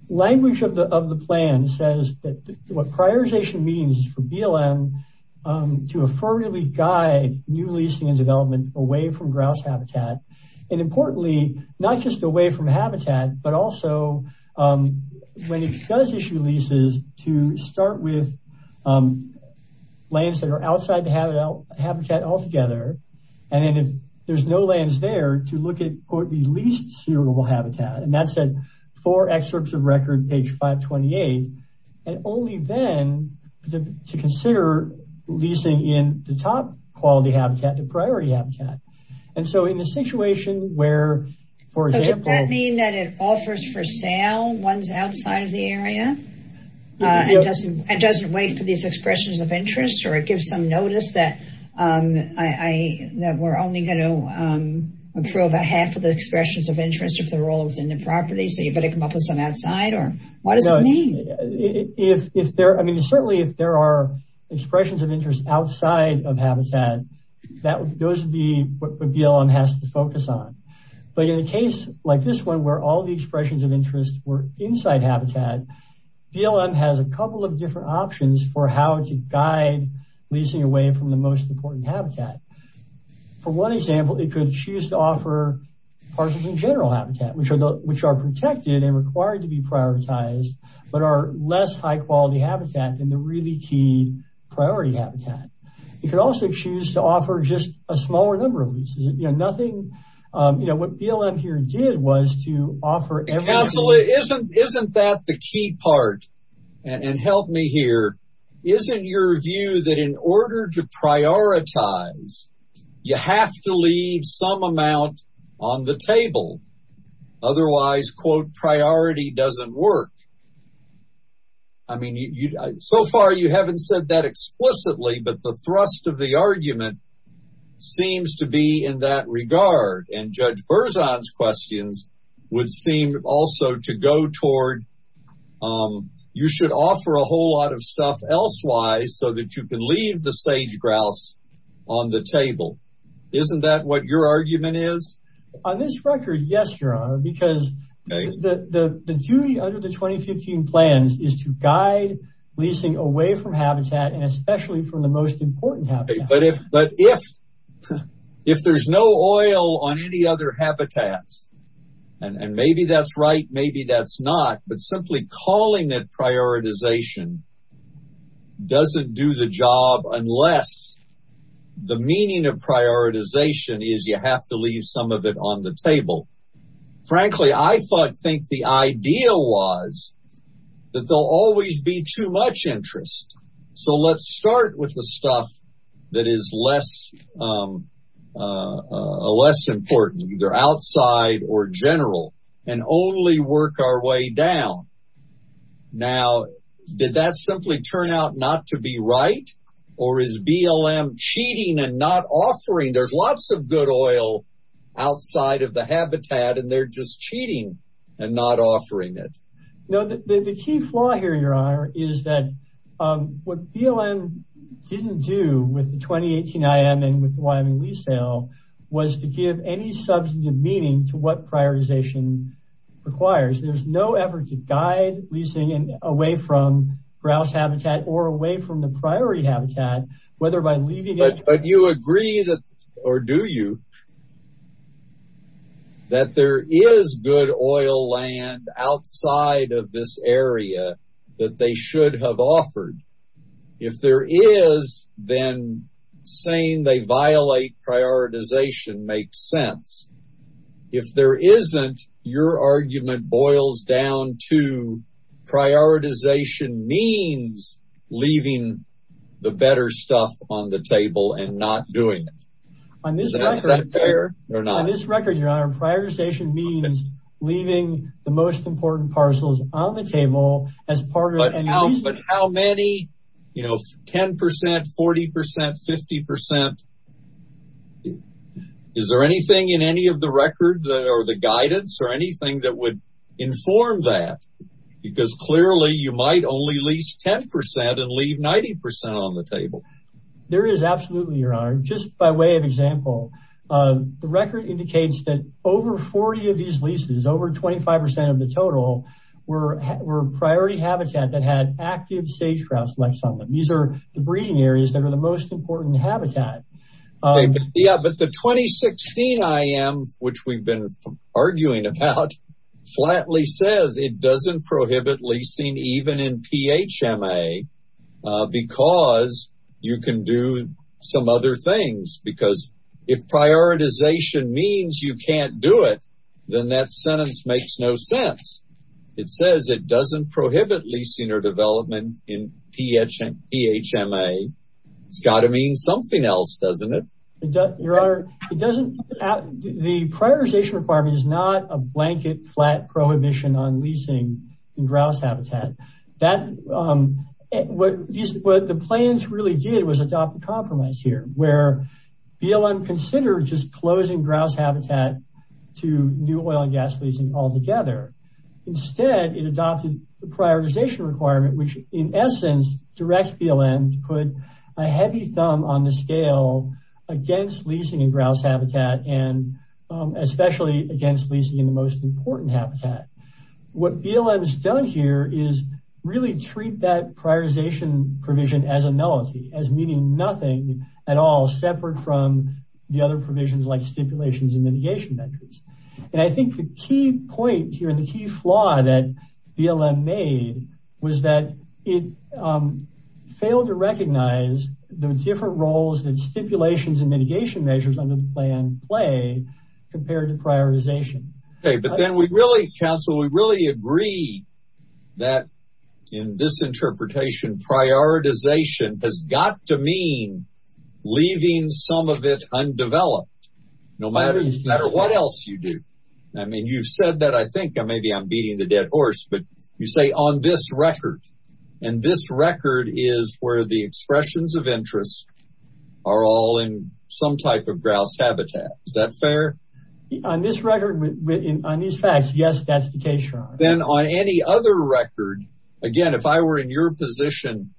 language of the, of the plan says that what prioritization means for BLM, um, to affirmatively guide new leasing and development away from grouse habitat. And importantly, not just away from habitat, but also, um, when it does issue leases to start with, um, lands that are outside the habitat altogether. And then if there's no lands there to look at, quote, the least suitable habitat, and that's at four excerpts of record, page 528, and only then to consider leasing in the top quality habitat, the priority habitat. And so in a situation where, for example, Does that mean that it offers for sale ones outside of the area? Uh, it doesn't, it doesn't wait for these expressions of interest, or it gives some notice that, um, I, that we're only going to, um, approve a half of the expressions of interest of the roles in the property. So you've got to come up with some outside or what does it mean? If, if there, I mean, certainly if there are expressions of interest outside of habitat, that would, those would be what BLM has to focus on. But in a case like this one, where all the expressions of interest were inside habitat, BLM has a couple of different options for how to guide leasing away from the most important habitat. For one example, it could choose to offer parcels in general habitat, which are, which are protected and required to be prioritized, but are less high quality habitat than the really key priority habitat. You could also choose to offer just a smaller number of leases. You know, nothing, um, you know, what BLM here did was to offer everything. Isn't that the key part and help me here. Isn't your view that in order to prioritize, you have to leave some amount on the table. Otherwise quote priority doesn't work. I mean, so far you haven't said that explicitly, but the thrust of the argument seems to be in that regard. And Judge Berzon's questions would seem also to go toward, um, you should offer a whole lot of stuff elsewise so that you can leave the sage grouse on the table. Isn't that what your argument is? On this record? Yes, Your Honor, because the duty under the 2015 plans is to guide leasing away from habitat and especially from the most important habitat. But if, but if, if there's no oil on any other habitats and maybe that's right, maybe that's not, but simply calling it prioritization doesn't do the job unless the meaning of prioritization is you have to leave some of it on the table. Frankly, I thought, think the idea was that there'll always be too much interest. So let's start with the stuff that is less, um, uh, less important either outside or general and only work our way down. Now, did that simply turn out not to be right? Or is BLM cheating and not offering? There's lots of good oil outside of the habitat and they're just cheating and not offering it. No, the key flaw here, Your Honor, is that, um, what BLM didn't do with the 2018 IM and with Wyoming lease sale was to give any substantive meaning to what prioritization requires. There's no effort to guide leasing and away from grouse habitat or away from the priority habitat, whether by leaving it. You agree that, or do you, that there is good oil land outside of this area that they should have offered? If there is, then saying they violate prioritization makes sense. If there isn't, your argument boils down to prioritization means leaving the better stuff on the table and not doing it. On this record, Your Honor, prioritization means leaving the most important parcels on the table as part of, but how many, you know, 10%, 40%, 50%. Is there anything in any of the record or the guidance or anything that would inform that? Because clearly you might only lease 10% and leave 90% on the table. There is absolutely, Your Honor, just by way of example, the record indicates that over 40 of these leases, over 25% of the total were priority habitat that had active sage grouse on them. These are the breeding areas that are the most important habitat. Yeah, but the 2016 IM, which we've been arguing about, flatly says it doesn't prohibit leasing even in PHMA because you can do some other things. Because if prioritization means you can't do it, then that sentence makes no sense. It says it doesn't prohibit leasing or development in PHMA. It's got to mean something else, doesn't it? Your Honor, it doesn't, the prioritization requirement is not a blanket flat prohibition on leasing grouse habitat. That, what the plans really did was adopt a compromise here where BLM considered just closing grouse habitat to new oil and gas leasing altogether. Instead, it adopted the prioritization requirement, which in essence directs BLM to put a heavy thumb on the scale against leasing in grouse habitat and especially against leasing in the most important habitat. What BLM has done here is really treat that prioritization provision as a nullity, as meaning nothing at all separate from the other provisions like stipulations and mitigation measures. I think the key point here and the key flaw that BLM made was that it failed to recognize the different roles that stipulations and mitigation measures under the plan play compared to prioritization. Okay, but then we really, counsel, we really agree that in this interpretation, prioritization has got to mean leaving some of it undeveloped, no matter what else you do. I mean, you've said that, I think maybe I'm beating the dead horse, but you say on this record and this record is where the expressions of interest are all in some type of grouse habitat. Is that fair? On this record, on these facts, yes, that's the case, your honor. Then on any other record, again, if I were in your position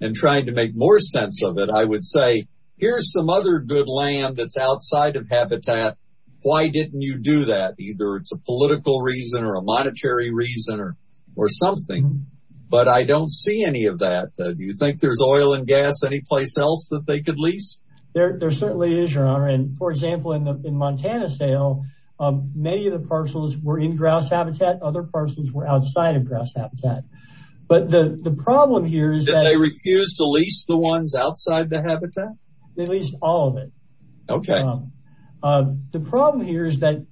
and trying to make more sense of it, I would say, here's some other good land that's outside of habitat. Why didn't you do that? Either it's a political reason or a monetary reason or something, but I don't see any of that. Do you think there's oil and gas anyplace else that they could lease? There certainly is, your honor. And for example, in the Montana sale, many of the parcels were in grouse habitat. Other parcels were outside of grouse habitat. But the problem here is that... They refused to lease the ones outside the habitat? They leased all of it. Okay. The problem here is that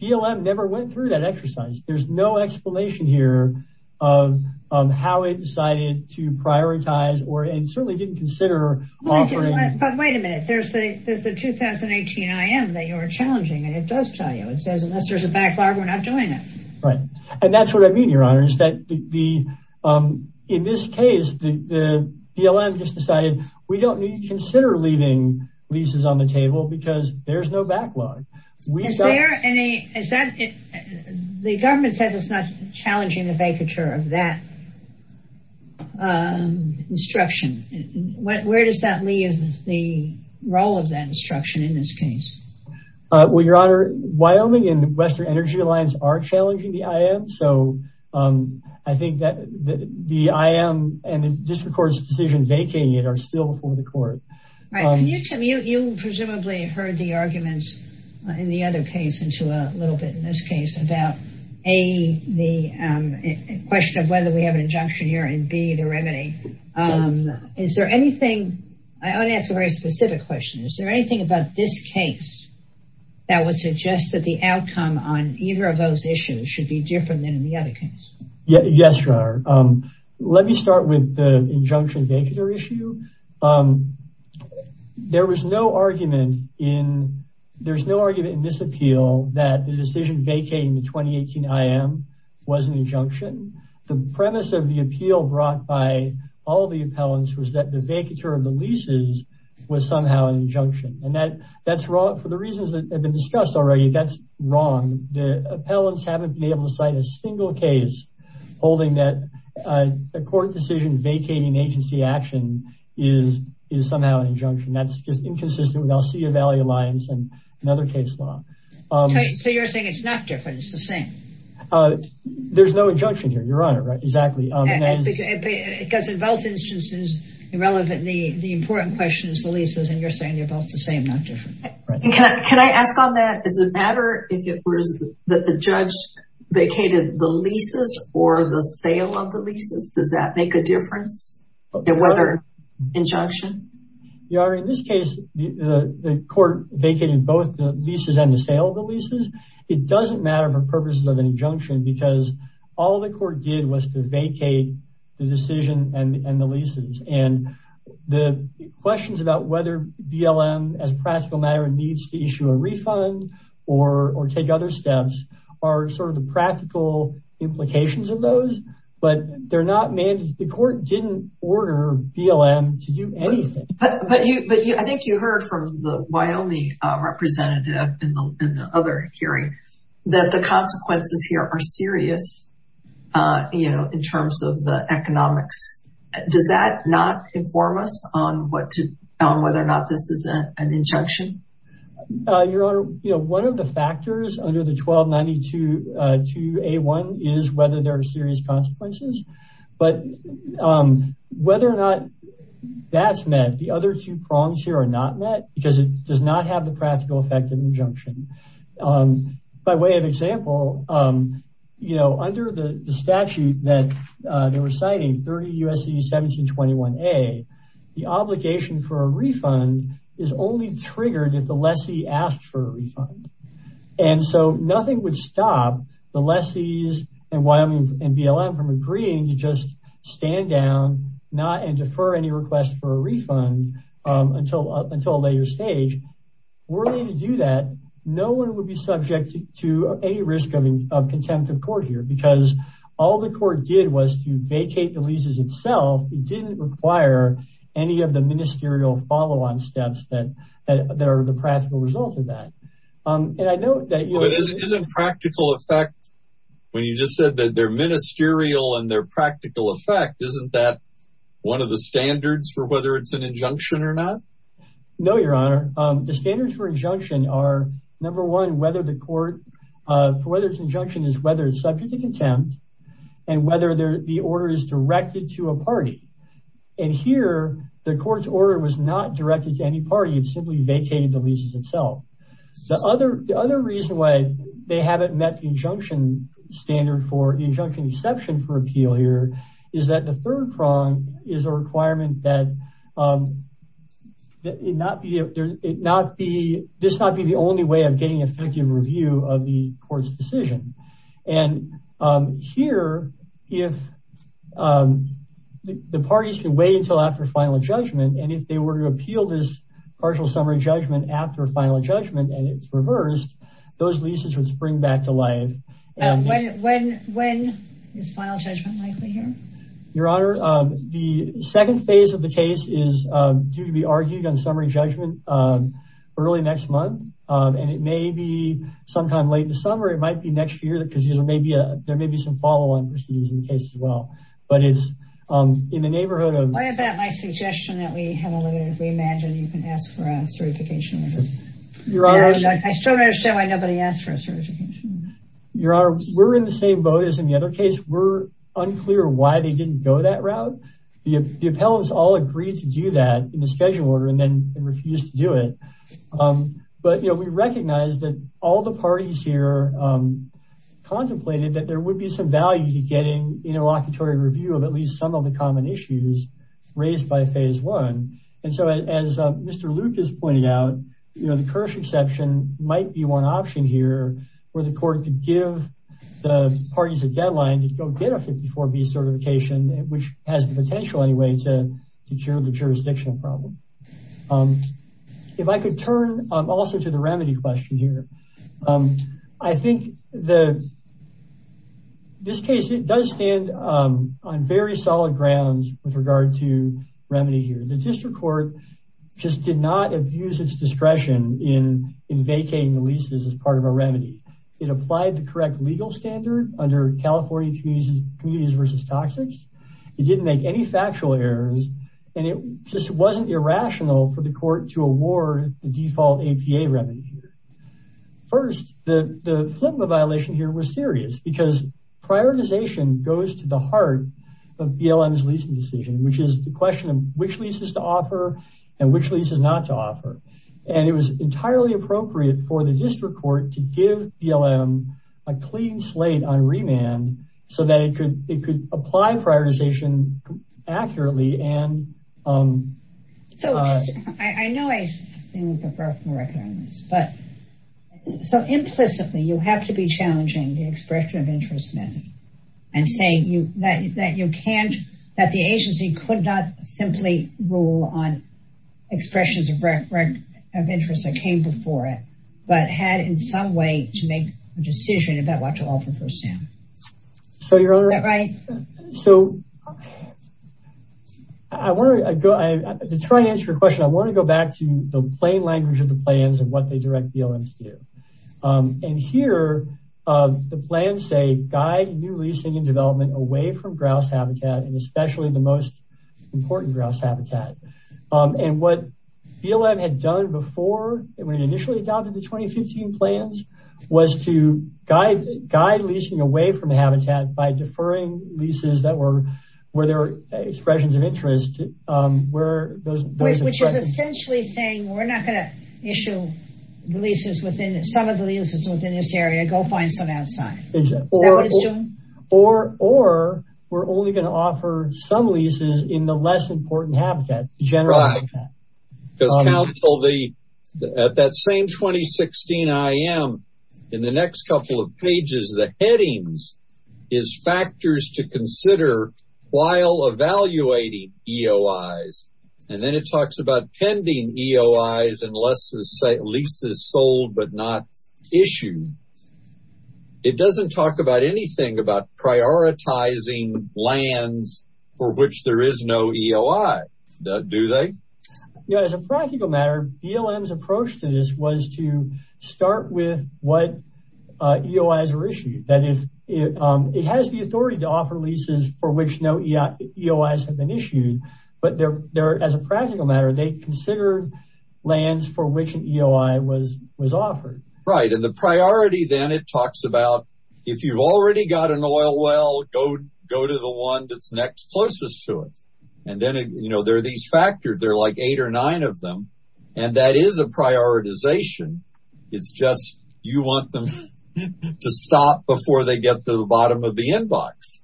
BLM never went through that exercise. There's no explanation here of how it decided to prioritize or, and certainly didn't consider offering... But wait a minute. There's the 2018 IM that you're challenging, and it does tell you. It says, unless there's a backlog, we're not doing it. Right. And that's what I mean, your honor, is that in this case, the BLM just decided, we don't consider leaving leases on the table because there's no backlog. The government says it's not challenging the vacature of that instruction. Where does that leave the role of that instruction in this case? Well, your honor, Wyoming and Western Energy Alliance are challenging the IM. So I think that the IM and the district court's decision vacating it are still before the court. Right. You presumably heard the arguments in the other case into a little bit in this case about A, the question of whether we have an injunction here and B, the remedy. Is there anything, I want to ask a very specific question. Is there anything about this case that would suggest that the outcome on either of those issues should be different than in the other case? Yes, your honor. Let me start with the injunction vacature issue. There was no argument in, there's no argument in this appeal that the decision vacating the 2018 IM was an injunction. The premise of the appeal brought by all the appellants was that the vacature of the leases was somehow an injunction. And that's wrong for the reasons that have been discussed already. That's wrong. The appellants haven't been able to cite a single case holding that a court decision vacating agency action is somehow an injunction. That's just inconsistent with Alcea Valley Alliance and another case law. So you're saying it's not different, it's the same? Uh, there's no injunction here, your honor. Right, exactly. Because in both instances, irrelevant, the important question is the leases. And you're saying they're both the same, not different. Right. Can I ask on that? Does it matter if it was that the judge vacated the leases or the sale of the leases? Does that make a difference in whether injunction? Your honor, in this case, the court vacated both the leases and the sale of the leases. It doesn't matter for purposes of an injunction because all the court did was to vacate the decision and the leases. And the questions about whether BLM as a practical matter needs to issue a refund or take other steps are sort of the practical implications of those. But they're not mandated. The court didn't order BLM to do anything. But I think you heard from the Wyoming representative in the other hearing that the consequences here are serious, you know, in terms of the economics. Does that not inform us on whether or not this is an injunction? Your honor, you know, one of the factors under the 1292A1 is whether there are serious consequences. But whether or not that's met, the other two prongs here are not met because it does not have the practical effect of injunction. By way of example, you know, under the statute that they were citing, 30 U.S.C. 1721A, the obligation for a refund is only triggered if the lessee asked for a refund. And so nothing would stop the lessees in Wyoming and BLM from agreeing to just stand down, not and defer any request for a refund until a later stage. Were they to do that, no one would be subject to any risk of contempt of court here because all the court did was to vacate the leases itself. It didn't require any of the ministerial follow-on steps that are the practical result of that. Um, and I know that isn't practical effect when you just said that they're ministerial and they're practical effect. Isn't that one of the standards for whether it's an injunction or not? No, your honor. The standards for injunction are number one, whether the court, uh, whether it's injunction is whether it's subject to contempt and whether the order is directed to a party. And here the court's order was not directed to any party. It simply vacated the leases itself. The other, the other reason why they haven't met the injunction standard for the injunction exception for appeal here is that the third prong is a requirement that, um, that it not be, it not be, this not be the only way of getting effective review of the court's decision. And, um, here, if, um, the parties can wait until after final judgment, and if they were to appeal this partial summary judgment after final judgment, and it's reversed, those leases would spring back to life. Um, when, when, when is final judgment likely here? Your honor, um, the second phase of the case is, um, due to be argued on summary judgment, um, early next month. Um, and it may be sometime late in the summer. It might be next year because there may be a, there may be some follow-on proceedings in the case as well, but it's, um, in the neighborhood of... I still don't understand why nobody asked for a certification. Your honor, we're in the same boat as in the other case. We're unclear why they didn't go that route. The, the appellants all agreed to do that in the schedule order and then refused to do it. Um, but you know, we recognize that all the parties here, um, contemplated that there would be some value to getting interlocutory review of at least some of the common issues raised by phase one. And so as, uh, Mr. Luke has pointed out, you know, the Kirsch exception might be one option here where the court could give the parties a deadline to go get a 54B certification, which has the potential anyway to, to cure the jurisdictional problem. Um, if I could turn, um, also to the remedy question here, um, I think the, this case, it does stand, um, on very solid grounds with regard to remedy here. The district court just did not abuse its discretion in, in vacating the leases as part of a remedy. It applied the correct legal standard under California communities, communities versus toxics. It didn't make any factual errors and it just wasn't irrational for the court to award the default APA remedy here. First, the, the flip of the violation here was serious because prioritization goes to the heart of BLM's leasing decision, which is the question of which leases to offer and which leases not to offer. And it was entirely appropriate for the district court to give BLM a clean slate on remand so that it could, it could apply prioritization accurately. And, um, so I know I seem to have broken the record on this, but so implicitly you have to be challenging the expression of interest method and saying that you can't, that the agency could not simply rule on expressions of, of interest that came before it, but had in some way to make a decision about what to offer first hand. So your honor, so I want to go, I just try to answer your question. I want to go back to the plain language of the plans and what they direct BLM to do. And here, uh, the plans say guide new leasing and development away from grouse habitat, and especially the most important grouse habitat. And what BLM had done before, when it initially adopted the 2015 plans was to guide, guide leasing away from the habitat by deferring leases that were, where there were expressions of interest, um, where those, which is essentially saying we're not going to issue leases within some of the leases within this area, go find some outside. Or, or we're only going to offer some leases in the less important habitat. Because counsel the, at that same 2016 IM in the next couple of pages, the headings is factors to consider while evaluating EOIs. And then it talks about pending EOIs and less than say leases sold, but not issued. It doesn't talk about anything about prioritizing lands for which there is no EOI, do they? Yeah, as a practical matter, BLM's approach to this was to start with what, uh, EOIs are issued. That is, it, um, it has the authority to offer leases for which no EOIs have been issued, but they're, they're, as a practical matter, they consider lands for which an EOI was, was offered. Right. And the priority then it talks about if you've already got an oil well, go, go to the one that's next closest to it. And then, you know, there are these factors, there are like eight or nine of them, and that is a prioritization. It's just, you want them to stop before they get to the bottom of the inbox.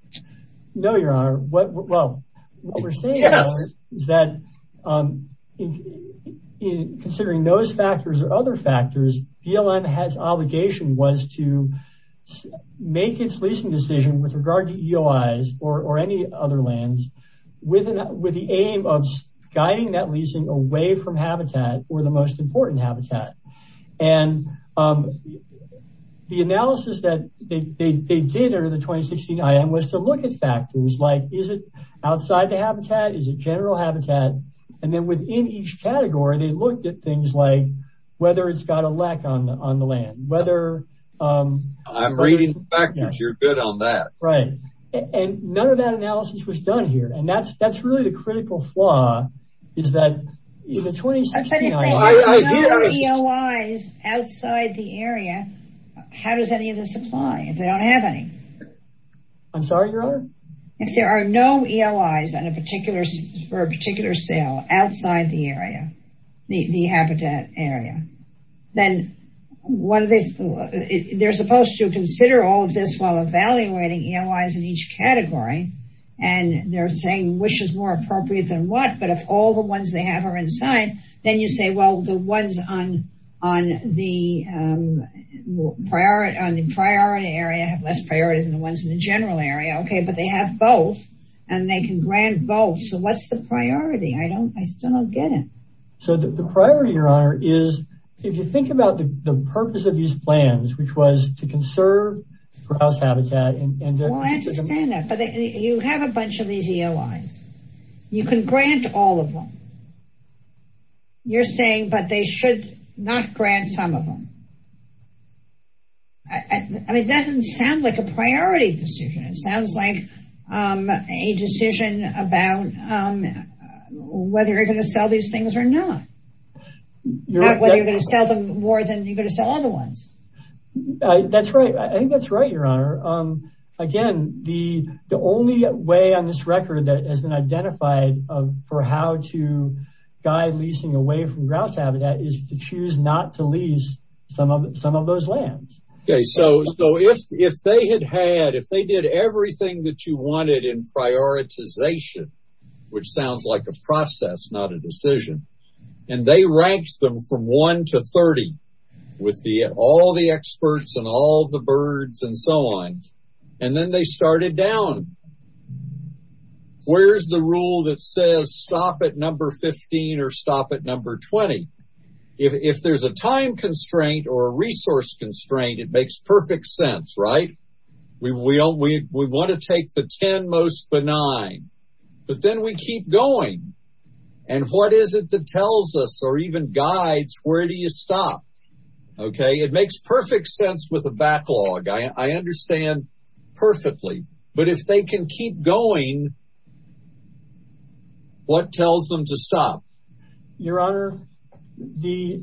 No, your honor. Well, what we're saying is that, um, in, in considering those factors or other factors, BLM has obligation was to make its leasing decision with regard to EOIs or, or any other lands with an, with the aim of guiding that leasing away from habitat or the most important habitat. And, um, the analysis that they, they, they did under the 2016 IAM was to look at factors like, is it outside the habitat? Is it general habitat? And then within each category, they looked at things like whether it's got a lack on the, on the land, whether, um. I'm reading the factors. You're good on that. Right. And none of that analysis was done here. And that's, that's really the critical flaw is that in the 2016 IAM. If there are no EOIs outside the area, how does any of this apply? If they don't have any? I'm sorry, your honor. If there are no EOIs on a particular, for a particular sale outside the area, the, the habitat area, then what are they, they're supposed to consider all of this while evaluating EOIs in each category. And they're saying which is more appropriate than what, but if all the ones they have are inside, then you say, well, the ones on, on the, um, priority, on the priority area have less priorities than the ones in the general area. Okay. But they have both and they can grant both. So what's the priority? I don't, I still don't get it. So the priority, your honor, is if you think about the purpose of these plans, which was to conserve grouse habitat. Well, I understand that, but you have a bunch of these EOIs. You can grant all of them. You're saying, but they should not grant some of them. I mean, it doesn't sound like a priority decision. It sounds like, um, a decision about, um, whether you're going to sell these things or not, whether you're going to sell them more than you're going to sell all the ones. That's right. I think that's right, your honor. Again, the, the only way on this record that has been identified for how to guide leasing away from grouse habitat is to choose not to lease some of, some of those lands. Okay. So, so if, if they had had, if they did everything that you wanted in prioritization, which sounds like a process, not a decision, and they ranked them from one to 30 with the, all the experts and all the birds and so on, and then they started down, where's the rule that says stop at number 15 or stop at number 20. If, if there's a time constraint or a resource constraint, it makes perfect sense, right? We will, we, we want to take the 10 most benign, but then we keep going. And what is it that tells us, or even guides, where do you stop? Okay. It makes perfect sense with a backlog. I understand perfectly, but if they can keep going, what tells them to stop? Your honor, the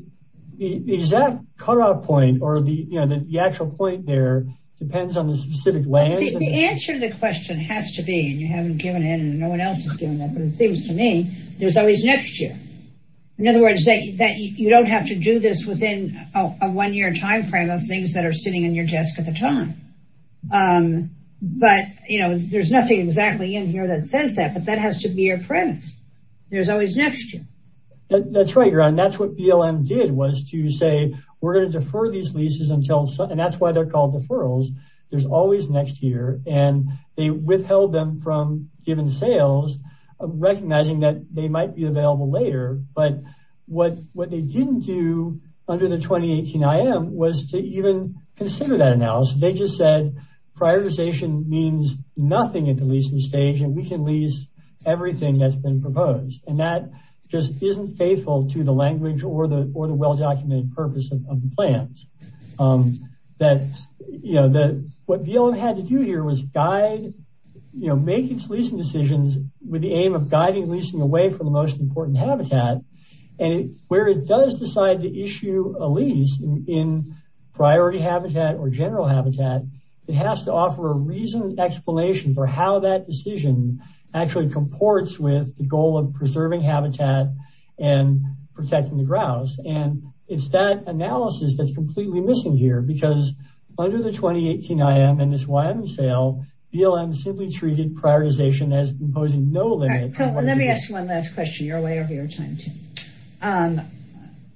exact cutoff point or the, you know, the actual point there depends on the specific land. The answer to the question has to be, and you haven't given it and no one else has given that, but it seems to me there's always next year. In other words, that you don't have to do this within a one year timeframe of things that are sitting in your desk at the time. But, you know, there's nothing exactly in here that says that, but that has to be your premise. There's always next year. That's right, your honor. That's what BLM did was to say, we're going to defer these leases until, and that's why they're called deferrals. There's always next year. And they withheld them from given sales, recognizing that they might be available later. But what they didn't do under the 2018 IM was to even consider that analysis. They just said prioritization means nothing at the leasing stage, and we can lease everything that's been proposed. And that just isn't faithful to the language or the well-documented purpose of the plans. That, you know, what BLM had to do here was guide, you know, make its leasing decisions with the aim of guiding leasing away from the most important habitat. And where it does decide to issue a lease in priority habitat or general habitat, it has to offer a reasoned explanation for how that decision actually comports with the goal of preserving habitat and protecting the grouse. And it's that analysis that's completely missing here, because under the 2018 IM and this Wyoming sale, BLM simply treated prioritization as imposing no limits. So let me ask one last question. You're way over your time, too.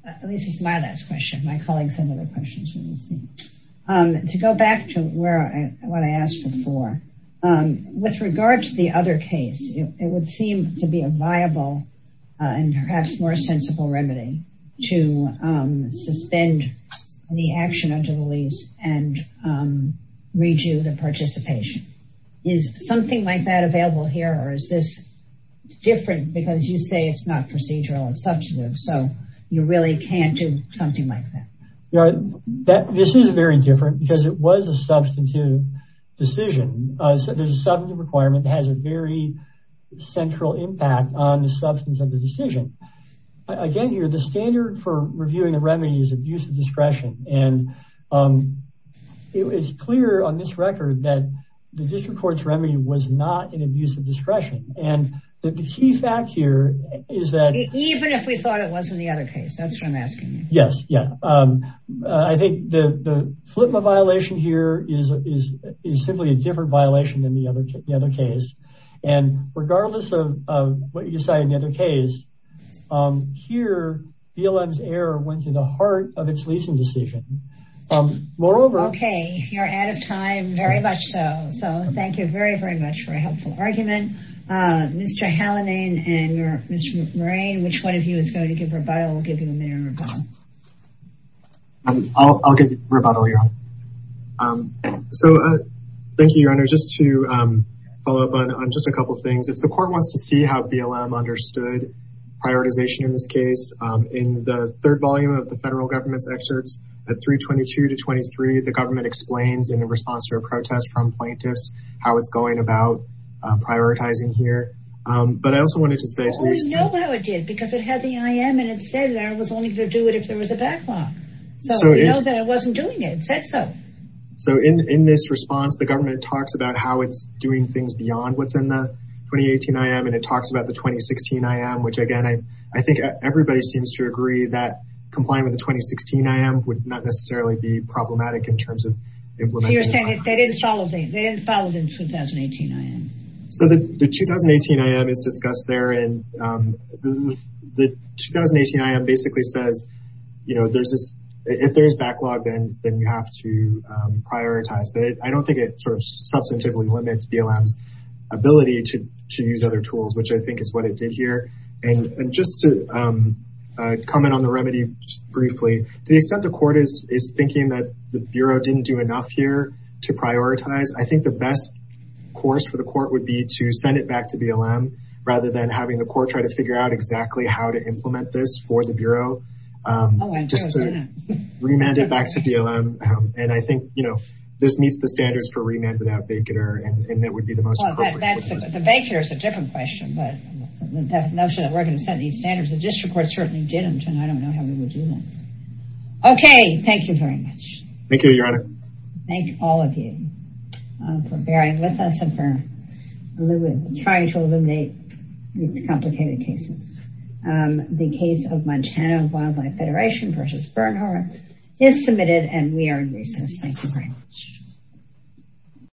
At least it's my last question. My colleagues have other questions. To go back to what I asked before, with regard to the other case, it would seem to be a viable and perhaps more sensible remedy to suspend the action of the lease and redo the participation. Is something like that available here? Or is this different because you say it's not procedural and substantive, so you really can't do something like that? This is very different because it was a substantive decision. There's a substantive requirement that has a very central impact on the substance of the decision. Again, the standard for reviewing the remedy is abuse of discretion. And it's clear on this record that the district court's remedy was not an abuse of discretion. And the key fact here is that... Even if we thought it was in the other case. That's what I'm asking you. Yes. Yes. I think the FLIPMA violation here is simply a different violation than the other case. And regardless of what you say in the other case, here BLM's error went to the heart of its leasing decision. Moreover... Okay. You're out of time. Very much so. So thank you very, very much for a helpful argument. Mr. Hallinane and Mr. McMurray, which one of you is going to give a rebuttal? We'll give you a minute to rebut. I'll give you a rebuttal, Your Honor. So thank you, Your Honor. Just to follow up on just a couple of things. If the court wants to see how BLM understood prioritization in this case, in the third volume of the federal government's excerpts at 322-23, the government explains in response to a protest from plaintiffs how it's going about prioritizing here. But I also wanted to say... Well, we know how it did because it had the IM and it said that it was only going to do it if there was a backlog. So we know that it wasn't doing it. It said so. So in this response, the government talks about how it's doing things beyond what's in the 2018 IM and it talks about the 2016 IM, which again, I think everybody seems to agree that complying with the 2016 IM would not necessarily be problematic in terms of implementing... You're saying they didn't follow the 2018 IM. So the 2018 IM is discussed there and the 2018 IM basically says, you know, if there's backlog, then you have to prioritize. But I don't think it sort of substantively limits BLM's ability to use other tools, which I think is what it did here. And just to comment on the remedy briefly, to the extent the court is thinking that the court would be to send it back to BLM rather than having the court try to figure out exactly how to implement this for the Bureau, just to remand it back to BLM. And I think, you know, this meets the standards for remand without vacater and that would be the most appropriate. The vacater is a different question, but the notion that we're going to set these standards, the district court certainly did them and I don't know how we would do that. Okay. Thank you very much. Thank you, Your Honor. Thank all of you for bearing with us and for trying to eliminate these complicated cases. The case of Montana Wildlife Federation versus Bernhardt is submitted and we are in recess. Thank you very much.